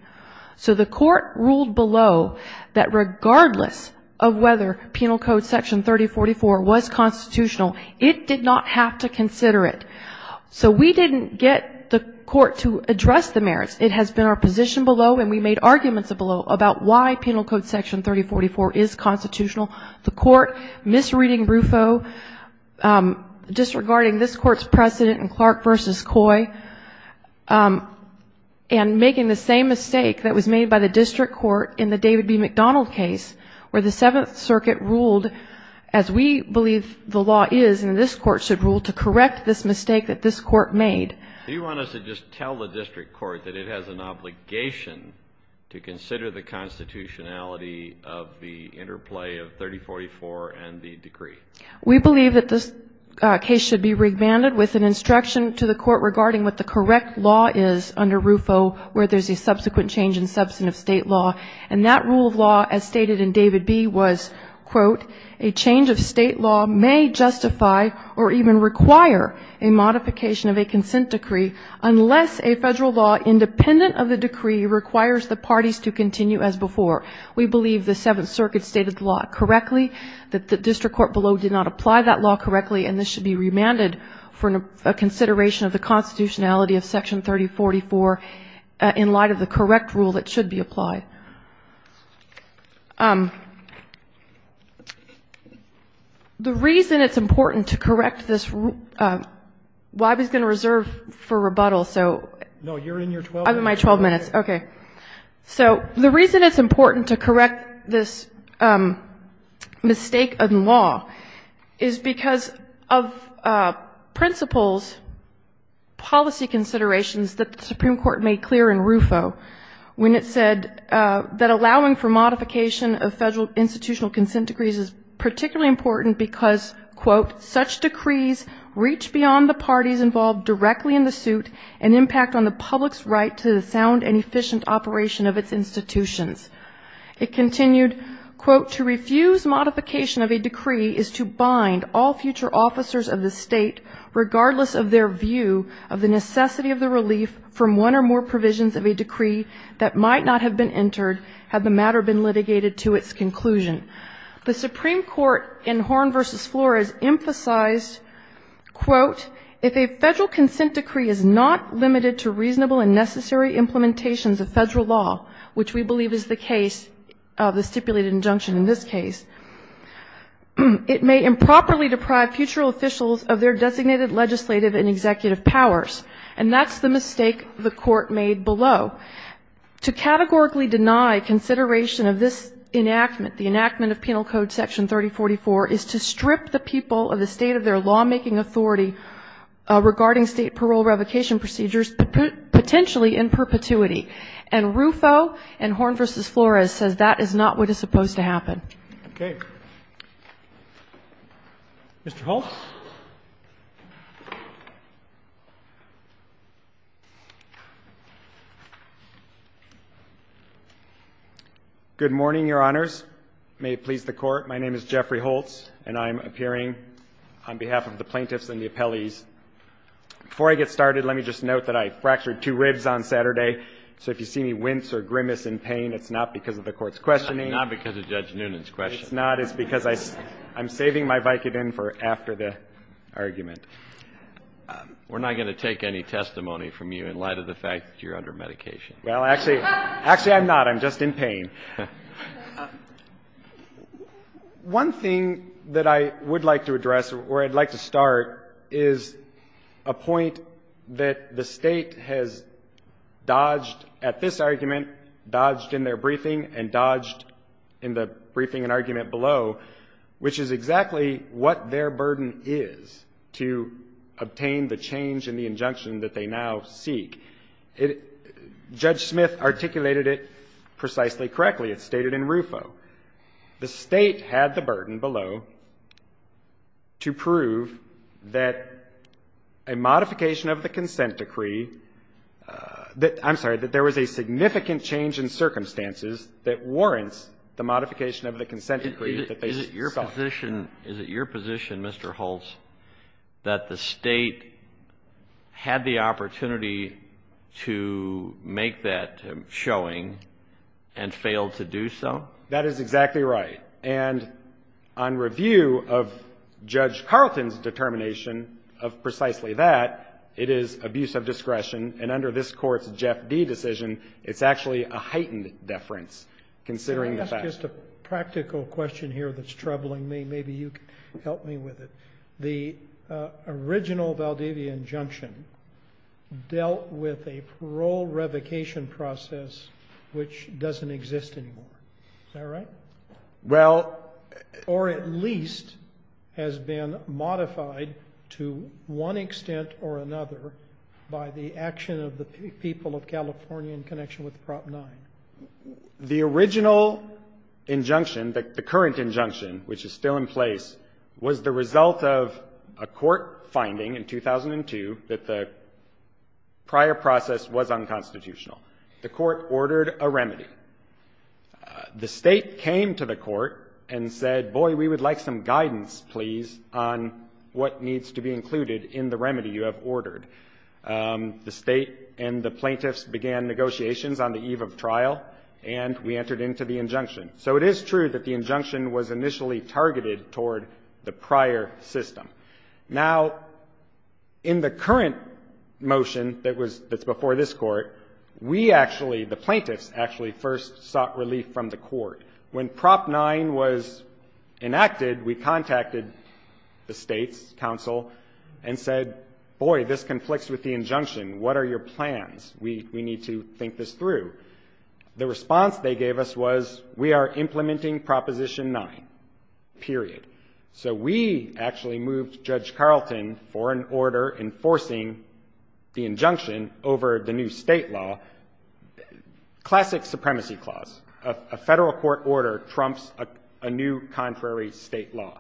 So the court ruled below that regardless of whether Penal Code Section 3044 was constitutional, it did not have to consider it. So we didn't get the court to address the merits. It has been our position below and we made arguments below about why Penal Code Section 3044 is constitutional. The court misreading RUFO, disregarding this court's precedent in Clark v. Coy and making the same mistake that was made by the district court in the David B. rule to correct this mistake that this court made. Do you want us to just tell the district court that it has an obligation to consider the constitutionality of the interplay of 3044 and the decree? We believe that this case should be remanded with an instruction to the court regarding what the correct law is under RUFO where there's a subsequent change in substantive state law. And that rule of law, as stated in David B., was, quote, a change of state law may justify or even require a modification of a consent decree, unless a federal law independent of the decree requires the parties to continue as before. We believe the Seventh Circuit stated the law correctly, that the district court below did not apply that law correctly, and this should be remanded for a consideration of the constitutionality of Section 3044 in light of the correct rule that should be applied. The reason it's important to correct this rule of law is because of principles, policy considerations that the Supreme Court made clear in RUFO when it said that allowing for modification of federal institutional consent decrees is particularly important because, quote, such decrees reach beyond the parties involved directly in the suit and impact on the public's right to the sound and efficient operation of its institutions. It continued, quote, to refuse modification of a decree is to bind all future officers of the state, regardless of their view of the necessity of the relief from one or more provisions of a decree that might not have been entered had the matter been litigated to its conclusion. The Supreme Court in Horn v. Flores emphasized, quote, if a federal consent decree is not limited to reasonable and necessary implementations of federal law, which we believe is the case, the stipulated injunction in this case, it may improperly deprive future officials of their designated legislative and executive powers. And that's the mistake the Court made below. To categorically deny consideration of this enactment, the enactment of Penal Code Section 3044, is to strip the people of the state of their lawmaking authority regarding state parole revocation procedures, potentially in perpetuity. And RUFO and Horn v. Flores says that is not what is supposed to happen. Okay. Mr. Holtz. Good morning, Your Honors. May it please the Court. My name is Jeffrey Holtz, and I'm appearing on behalf of the plaintiffs and the appellees. Before I get started, let me just note that I fractured two ribs on Saturday, so if you see me wince or grimace in pain, it's not because of the Court's questioning. It's not because of Judge Noonan's question. It's not. It's because I'm saving my Vicodin for after the argument. We're not going to take any testimony from you in light of the fact that you're under medication. Well, actually, actually, I'm not. I'm just in pain. One thing that I would like to address, or I'd like to start, is a point that the State has dodged at this argument, dodged in their briefing, and dodged in the briefing and argument below, which is exactly what their burden is to obtain the change in the injunction that they now seek. Judge Smith articulated it precisely correctly. It's stated in RUFO. The State had the burden below to prove that a modification of the consent decree that – I'm sorry – that there was a significant change in circumstances that warrants the modification of the consent decree that they sought. Is it your position, Mr. Holtz, that the State had the opportunity to make that showing and failed to do so? That is exactly right. And on review of Judge Carlton's determination of precisely that, it is abuse of discretion. And under this Court's Jeff D. decision, it's actually a heightened deference, considering the fact – Can I ask just a practical question here that's troubling me? Maybe you can help me with it. The original Valdivia injunction dealt with a parole revocation process which doesn't exist anymore. Is that right? Well – Or at least has been modified to one extent or another by the action of the people of California in connection with Prop 9. The original injunction, the current injunction, which is still in place, was the result of a court finding in 2002 that the prior process was unconstitutional. The court ordered a remedy. The State came to the court and said, boy, we would like some guidance, please, on what needs to be included in the remedy you have ordered. The State and the plaintiffs began negotiations on the eve of trial, and we entered into the injunction. So it is true that the injunction was initially targeted toward the prior system. Now, in the current motion that's before this Court, we actually, the plaintiffs actually, first sought relief from the court. When Prop 9 was enacted, we contacted the State's counsel and said, boy, this conflicts with the injunction. What are your plans? We need to think this through. The response they gave us was, we are implementing Proposition 9, period. So we actually moved Judge Carlton for an order enforcing the injunction over the new State law, classic supremacy clause. A Federal court order trumps a new contrary State law.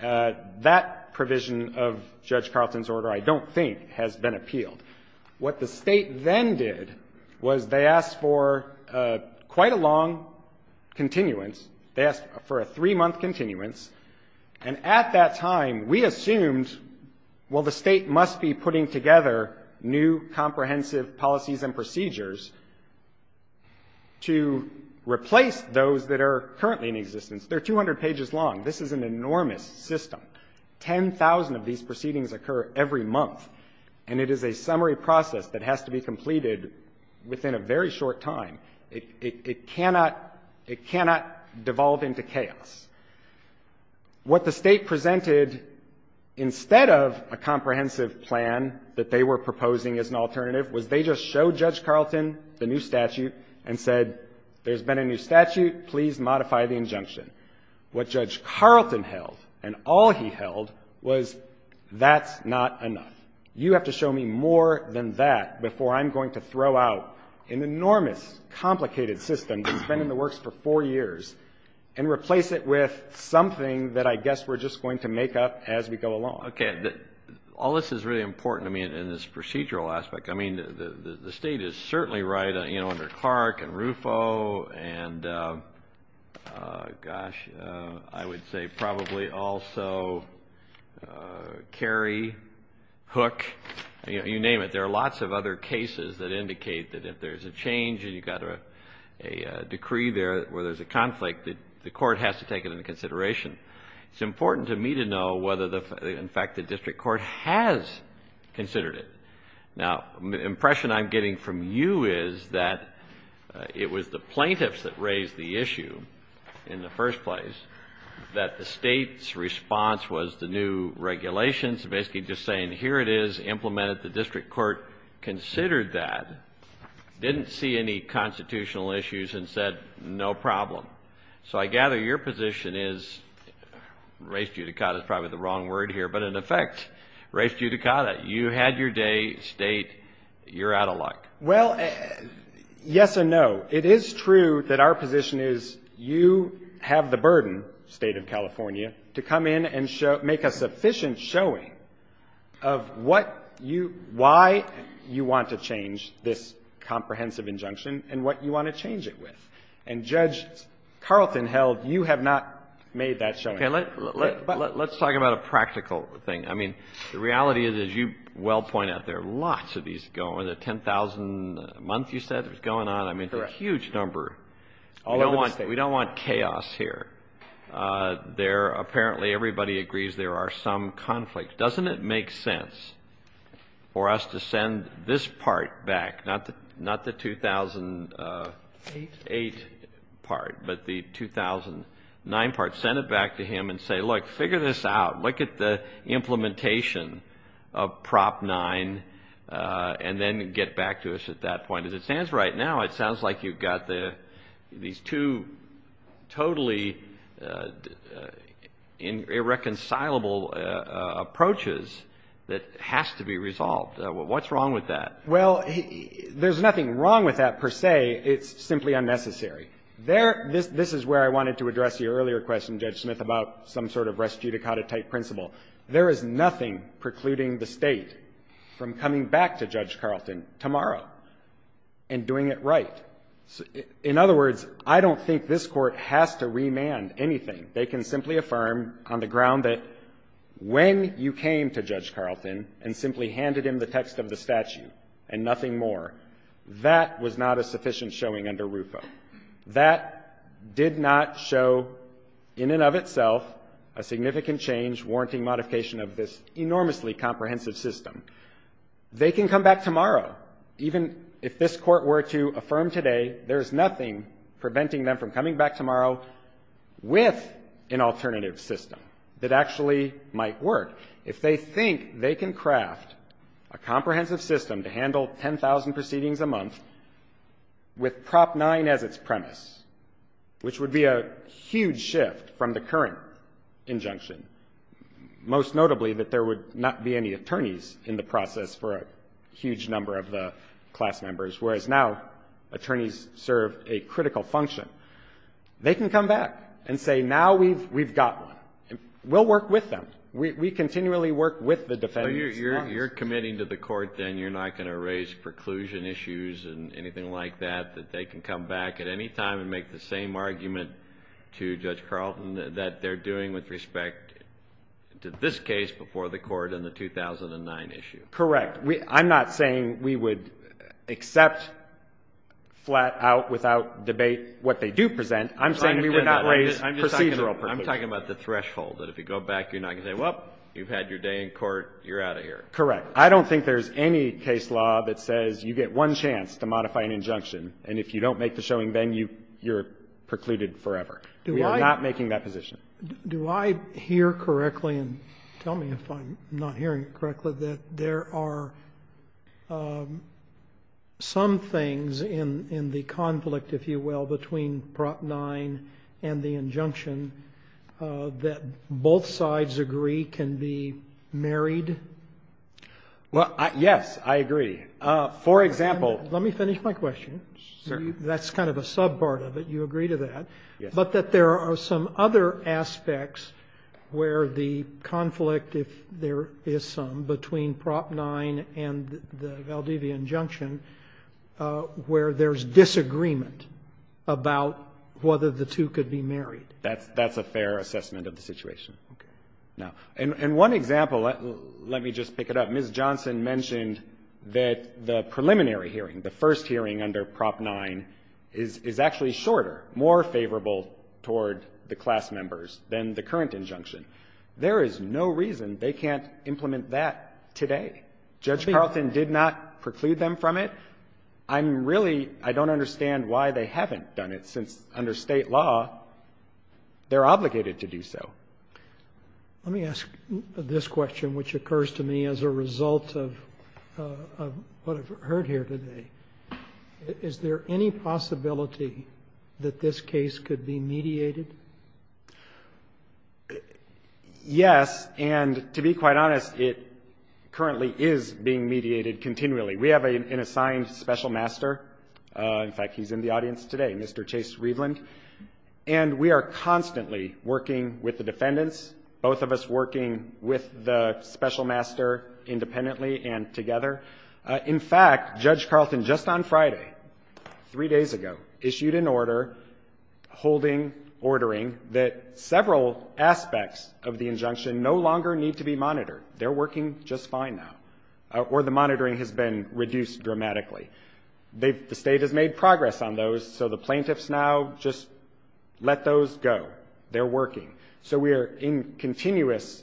That provision of Judge Carlton's order, I don't think, has been appealed. What the State then did was they asked for quite a long continuance. They asked for a three-month continuance. And at that time, we assumed, well, the State must be putting together new comprehensive policies and procedures to replace those that are currently in existence. They're 200 pages long. This is an enormous system. Ten thousand of these proceedings occur every month. And it is a summary process that has to be completed within a very short time. It cannot devolve into chaos. What the State presented, instead of a comprehensive plan that they were proposing as an alternative, was they just showed Judge Carlton the new statute and said, there's been a new statute. Please modify the injunction. What Judge Carlton held and all he held was, that's not enough. You have to show me more than that before I'm going to throw out an enormous, complicated system that's been in the works for four years and replace it with something that I guess we're just going to make up as we go along. Okay. All this is really important, I mean, in this procedural aspect. I mean, the State is certainly right under Clark and Ruffo and, gosh, I would say probably also Cary, Hook, you name it. There are lots of other cases that indicate that if there's a change and you've got a decree there where there's a conflict, the court has to take it into consideration. It's important to me to know whether, in fact, the district court has considered it. Now, the impression I'm getting from you is that it was the plaintiffs that raised the issue in the first place, that the State's response was the new regulations, basically just saying, here it is, implemented. The district court considered that, didn't see any constitutional issues and said, no problem. So I gather your position is, res judicata is probably the wrong word here, but in effect res judicata, you had your day, State, you're out of luck. Well, yes and no. It is true that our position is you have the burden, State of California, to come in and make a sufficient showing of why you want to change this comprehensive injunction and what you want to change it with. And Judge Carlton held you have not made that showing. Okay. Let's talk about a practical thing. I mean, the reality is, as you well point out, there are lots of these going on. The 10,000 a month, you said, that's going on. Correct. I mean, it's a huge number. All over the State. We don't want chaos here. There, apparently, everybody agrees there are some conflicts. Doesn't it make sense for us to send this part back, not the 2008 part, but the 2009 part, send it back to him and say, look, figure this out. Look at the implementation of Prop 9 and then get back to us at that point. As it stands right now, it sounds like you've got these two totally irreconcilable approaches that has to be resolved. What's wrong with that? Well, there's nothing wrong with that, per se. It's simply unnecessary. This is where I wanted to address your earlier question, Judge Smith, about some sort of res judicata type principle. There is nothing precluding the State from coming back to Judge Carlton tomorrow and doing it right. In other words, I don't think this Court has to remand anything. They can simply affirm on the ground that when you came to Judge Carlton and simply handed him the text of the statute and nothing more, that was not a sufficient showing under RUFO. That did not show, in and of itself, a significant change warranting modification of this enormously comprehensive system. They can come back tomorrow. Even if this Court were to affirm today, there's nothing preventing them from coming back tomorrow with an alternative system that actually might work. If they think they can craft a comprehensive system to handle 10,000 proceedings a month with Prop 9 as its premise, which would be a huge shift from the current 10,000 proceedings to 10,000 proceedings a month, which would be a huge shift for the attorneys in the process for a huge number of the class members, whereas now attorneys serve a critical function, they can come back and say, now we've got one. We'll work with them. We continually work with the defendants. So you're committing to the Court, then, you're not going to raise preclusion issues and anything like that, that they can come back at any time and make the same argument to Judge Carlton that they're doing with respect to this case before the Court and the 2009 issue? Correct. I'm not saying we would accept flat out without debate what they do present. I'm saying we would not raise procedural preclusion. I'm talking about the threshold, that if you go back, you're not going to say, well, you've had your day in court. You're out of here. Correct. I don't think there's any case law that says you get one chance to modify an injunction, and if you don't make the showing then, you're precluded forever. We are not making that position. Do I hear correctly, and tell me if I'm not hearing correctly, that there are some things in the conflict, if you will, between Prop 9 and the injunction that both sides agree can be married? Well, yes. I agree. For example. Let me finish my question. Sure. That's kind of a sub part of it. You agree to that. Yes. But that there are some other aspects where the conflict, if there is some, between Prop 9 and the Valdivia injunction where there's disagreement about whether the two could be married. That's a fair assessment of the situation. Okay. Now, and one example, let me just pick it up. Ms. Johnson mentioned that the preliminary hearing, the first hearing under Prop 9, is actually shorter, more favorable toward the class members than the current injunction. There is no reason they can't implement that today. Judge Carlton did not preclude them from it. I'm really, I don't understand why they haven't done it, since under State law, they're Let me ask this question, which occurs to me as a result of what I've heard here today. Is there any possibility that this case could be mediated? Yes. And to be quite honest, it currently is being mediated continually. We have an assigned special master. In fact, he's in the audience today, Mr. Chase Reveland. And we are constantly working with the defendants, both of us working with the special master independently and together. In fact, Judge Carlton just on Friday, three days ago, issued an order holding ordering that several aspects of the injunction no longer need to be monitored. They're working just fine now. Or the monitoring has been reduced dramatically. The State has made progress on those, so the plaintiffs now just let those go. They're working. So we are in continuous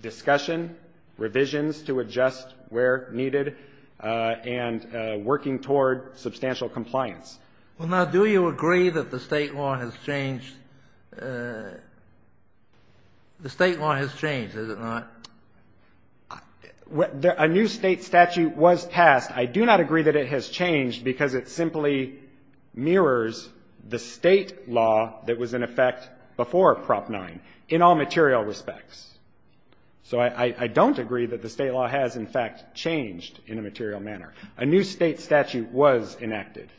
discussion, revisions to adjust where needed, and working toward substantial compliance. Well, now, do you agree that the State law has changed? The State law has changed, has it not? A new State statute was passed. I do not agree that it has changed because it simply mirrors the State law that was in effect before Prop 9 in all material respects. So I don't agree that the State law has, in fact, changed in a material manner. A new State statute was enacted.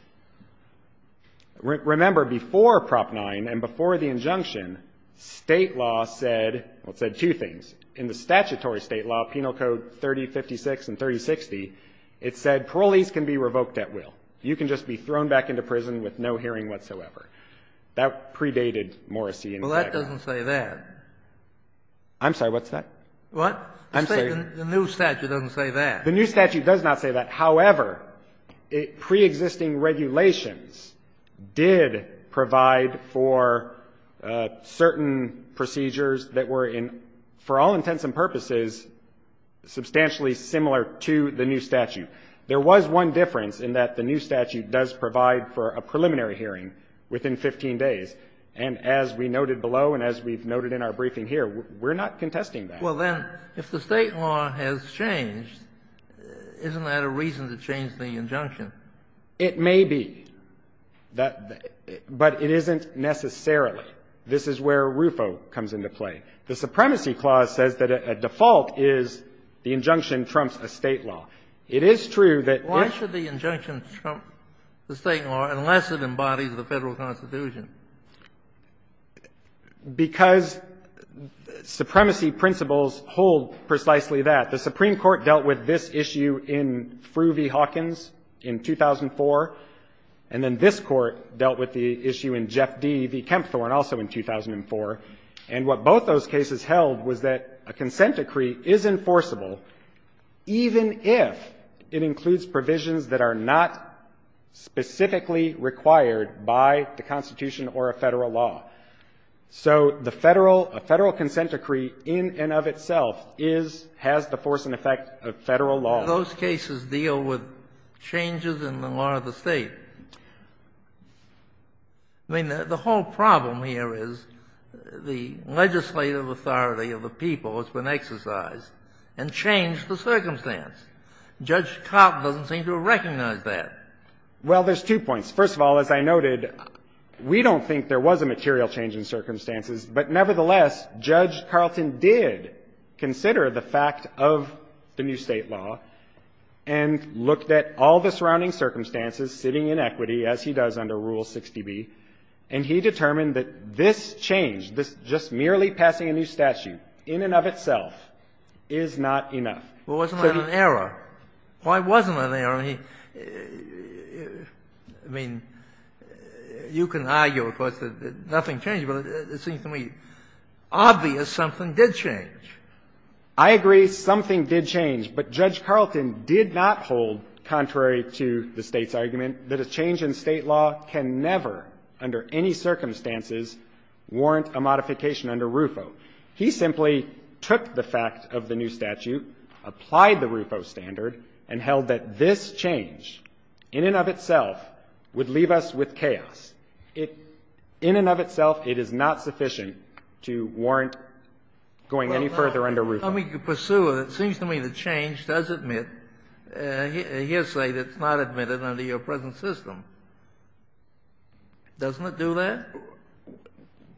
Remember, before Prop 9 and before the injunction, State law said, well, it said two things. In the statutory State law, Penal Code 3056 and 3060, it said parolees can be revoked at will. You can just be thrown back into prison with no hearing whatsoever. That predated Morrissey and Fager. Well, that doesn't say that. I'm sorry. What's that? What? The new statute doesn't say that. The new statute does not say that. However, preexisting regulations did provide for certain procedures that were in, for all intents and purposes, substantially similar to the new statute. There was one difference in that the new statute does provide for a preliminary hearing within 15 days. And as we noted below and as we've noted in our briefing here, we're not contesting that. Well, then, if the State law has changed, isn't that a reason to change the injunction? It may be. But it isn't necessarily. This is where RUFO comes into play. The Supremacy Clause says that a default is the injunction trumps a State law. It is true that if the State law, unless it embodies the Federal Constitution, because supremacy principles hold precisely that. The Supreme Court dealt with this issue in Frueh v. Hawkins in 2004, and then this was that a consent decree is enforceable even if it includes provisions that are not specifically required by the Constitution or a Federal law. So the Federal, a Federal consent decree in and of itself is, has the force and effect of Federal law. Those cases deal with changes in the law of the State. I mean, the whole problem here is the legislative authority of the people has been exercised and changed the circumstance. Judge Carlton doesn't seem to recognize that. Well, there's two points. First of all, as I noted, we don't think there was a material change in circumstances, but nevertheless, Judge Carlton did consider the fact of the new State law and looked at all the surrounding circumstances, sitting inequity, as he does under Rule 60B, and he determined that this change, this just merely passing a new statute in and of itself, is not enough. Well, wasn't that an error? Why wasn't that an error? I mean, you can argue, of course, that nothing changed, but it seems to me obvious something did change. I agree something did change, but Judge Carlton did not hold, contrary to the State's argument, that a change in State law can never, under any circumstances, warrant a modification under RUFO. He simply took the fact of the new statute, applied the RUFO standard, and held that this change in and of itself would leave us with chaos. In and of itself, it is not sufficient to warrant going any further under RUFO. Well, now, let me pursue it. It seems to me the change does admit a hearsay that's not admitted under your present system. Doesn't it do that?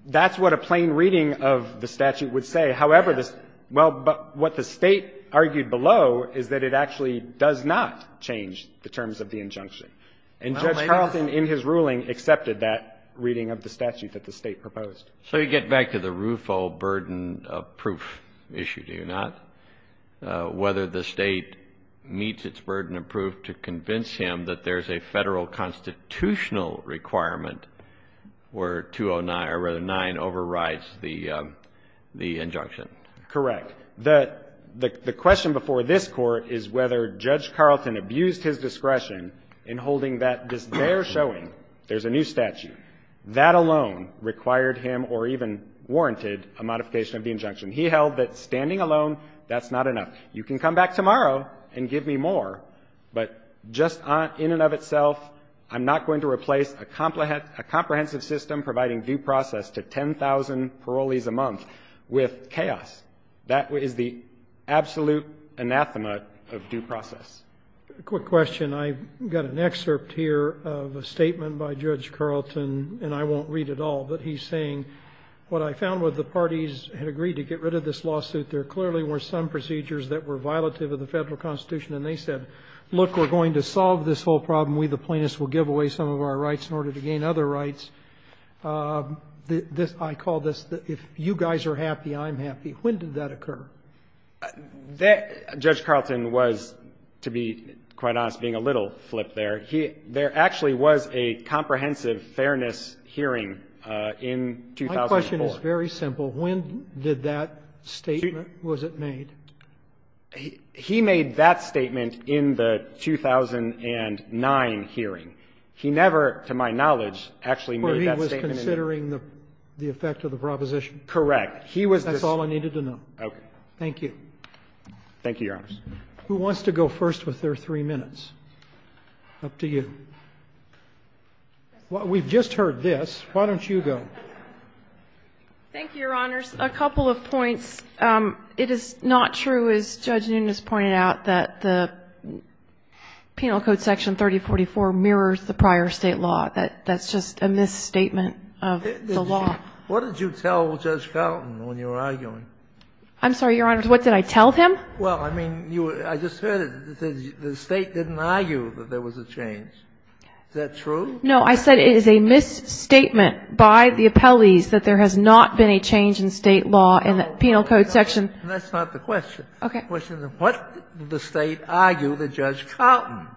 That's what a plain reading of the statute would say. However, this — well, what the State argued below is that it actually does not change the terms of the injunction. And Judge Carlton, in his ruling, accepted that reading of the statute that the State proposed. So you get back to the RUFO burden of proof issue, do you not, whether the State meets its burden of proof to convince him that there's a Federal constitutional requirement where 209 — or rather, 9 overrides the injunction? Correct. Look, the question before this Court is whether Judge Carlton abused his discretion in holding that they're showing there's a new statute. That alone required him or even warranted a modification of the injunction. He held that standing alone, that's not enough. You can come back tomorrow and give me more, but just in and of itself, I'm not going to replace a comprehensive system providing due process to 10,000 parolees a month with chaos. That is the absolute anathema of due process. A quick question. I've got an excerpt here of a statement by Judge Carlton, and I won't read it all. But he's saying, what I found was the parties had agreed to get rid of this lawsuit. There clearly were some procedures that were violative of the Federal Constitution and they said, look, we're going to solve this whole problem, we the plaintiffs will give away some of our rights in order to gain other rights. This, I call this, if you guys are happy, I'm happy. When did that occur? That, Judge Carlton was, to be quite honest, being a little flip there. There actually was a comprehensive fairness hearing in 2004. My question is very simple. When did that statement, was it made? He made that statement in the 2009 hearing. He never, to my knowledge, actually made that statement. He was considering the effect of the proposition? Correct. That's all I needed to know. Okay. Thank you. Thank you, Your Honors. Who wants to go first with their three minutes? Up to you. We've just heard this. Why don't you go? Thank you, Your Honors. A couple of points. It is not true, as Judge Nunes pointed out, that the Penal Code Section 3044 mirrors the prior State law. That's just a misstatement of the law. What did you tell Judge Carlton when you were arguing? I'm sorry, Your Honors. What did I tell him? Well, I mean, I just heard it. The State didn't argue that there was a change. Is that true? No, I said it is a misstatement by the appellees that there has not been a change in State law in the Penal Code Section. That's not the question. Okay. The question is what did the State argue with Judge Carlton?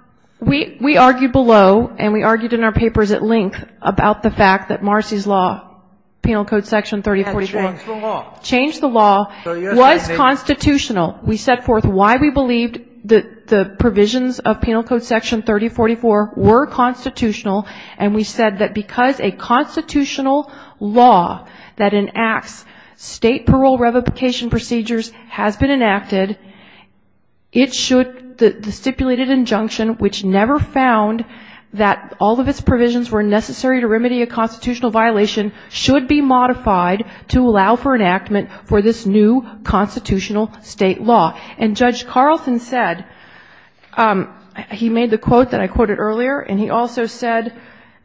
We argued below and we argued in our papers at length about the fact that Marcy's law, Penal Code Section 3044, changed the law, was constitutional. We set forth why we believed that the provisions of Penal Code Section 3044 were constitutional, and we said that because a constitutional law that enacts State parole revocation procedures has been enacted, it should, the stipulated injunction, which never found that all of its provisions were necessary to remedy a constitutional violation, should be modified to allow for enactment for this new constitutional State law. And Judge Carlton said, he made the quote that I quoted earlier, and he also said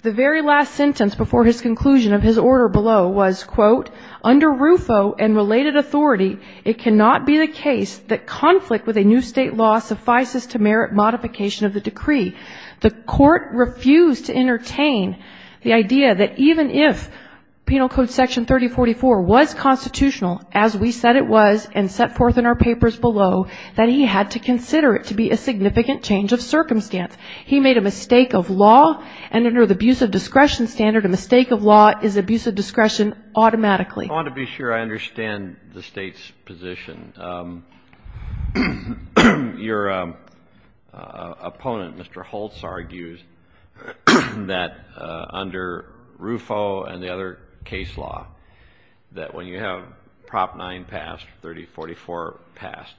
the very last sentence before his conclusion of his order below was, quote, under RUFO and related authority, it cannot be the case that conflict with a new State law suffices to merit modification of the decree. The Court refused to entertain the idea that even if Penal Code Section 3044 was constitutional, as we said it was and set forth in our papers below, that he had to consider it to be a significant change of circumstance. He made a mistake of law, and under the abuse of discretion standard, a mistake of law is abuse of discretion automatically. I want to be sure I understand the State's position. Your opponent, Mr. Holtz, argues that under RUFO and the other case law, that when you have Prop 9 passed, 3044 passed,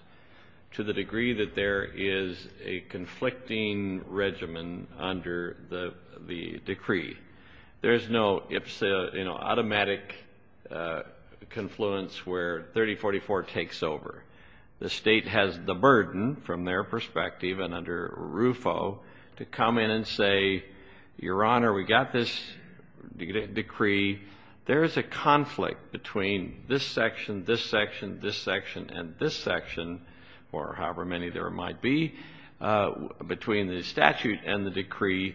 to the degree that there is a conflicting regimen under the decree, there is no automatic confluence where 3044 takes over. The State has the burden, from their perspective and under RUFO, to come in and say, Your Honor, we got this decree. There is a conflict between this section, this section, this section, and this section, or however many there might be, between the statute and the decree.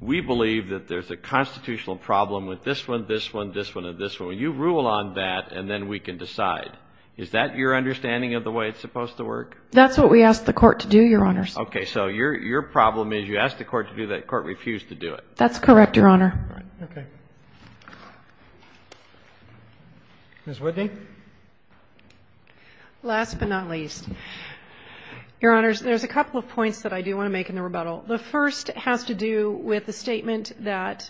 We believe that there's a constitutional problem with this one, this one, this one, and this one. You rule on that, and then we can decide. Is that your understanding of the way it's supposed to work? That's what we asked the Court to do, Your Honor. Okay. So your problem is you asked the Court to do that. The Court refused to do it. That's correct, Your Honor. All right. Okay. Ms. Whitney. Last but not least, Your Honors, there's a couple of points that I do want to make in the rebuttal. The first has to do with the statement that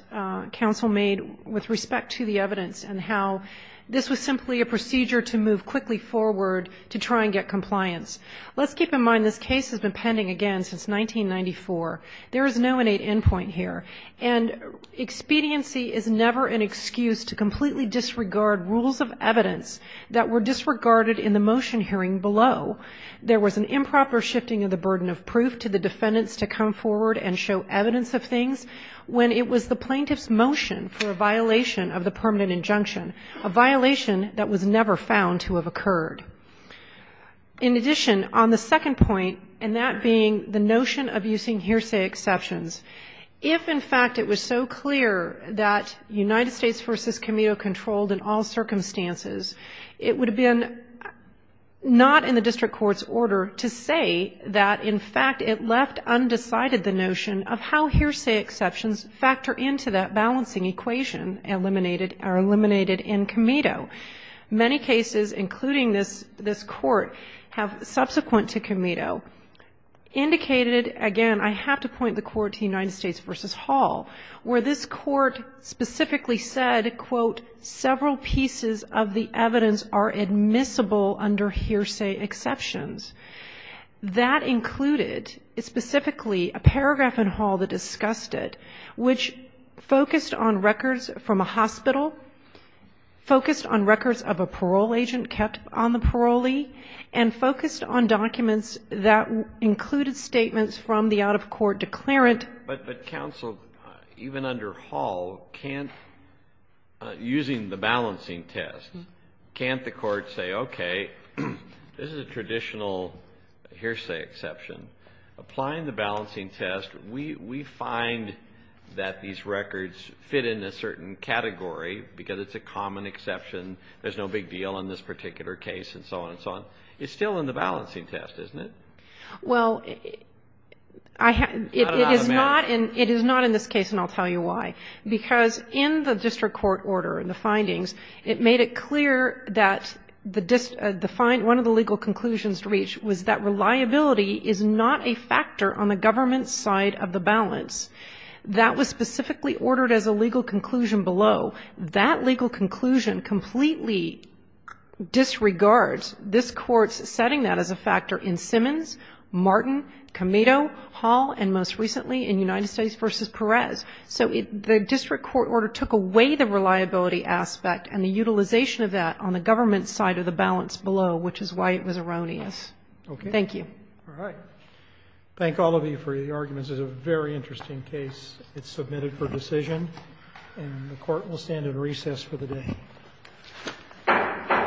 counsel made with respect to the evidence and how this was simply a procedure to move quickly forward to try and get compliance. Let's keep in mind this case has been pending again since 1994. There is no innate endpoint here. And expediency is never an excuse to completely disregard rules of evidence that were disregarded in the motion hearing below. There was an improper shifting of the burden of proof to the defendants to come forward and show evidence of things when it was the plaintiff's motion for a violation of the permanent injunction, a violation that was never found to have occurred. In addition, on the second point, and that being the notion of using hearsay exceptions, if, in fact, it was so clear that United States v. Comito controlled in all circumstances, it would have been not in the district court's order to say that, in fact, it left undecided the notion of how hearsay exceptions factor into that balancing equation eliminated in Comito. Many cases, including this court, have subsequent to Comito indicated, again, I have to point the court to United States v. Hall, where this court specifically said, quote, several pieces of the evidence are admissible under hearsay exceptions. That included specifically a paragraph in Hall that discussed it which focused on records from a hospital, focused on records of a parole agent kept on the parolee, and focused on documents that included statements from the out-of-court declarant. But, counsel, even under Hall, can't, using the balancing test, can't the court say, okay, this is a traditional hearsay exception. Applying the balancing test, we find that these records fit in a certain category because it's a common exception. There's no big deal in this particular case and so on and so on. It's still in the balancing test, isn't it? Well, it is not in this case, and I'll tell you why. Because in the district court order, in the findings, it made it clear that the legal conclusions reached was that reliability is not a factor on the government's side of the balance. That was specifically ordered as a legal conclusion below. That legal conclusion completely disregards this Court's setting that as a factor in Simmons, Martin, Comito, Hall, and most recently in United States v. Perez. So the district court order took away the reliability aspect and the utilization of that on the government's side of the balance below, which is why it was erroneous. Thank you. Roberts. All right. Thank all of you for your arguments. It's a very interesting case. It's submitted for decision, and the Court will stand in recess for the day.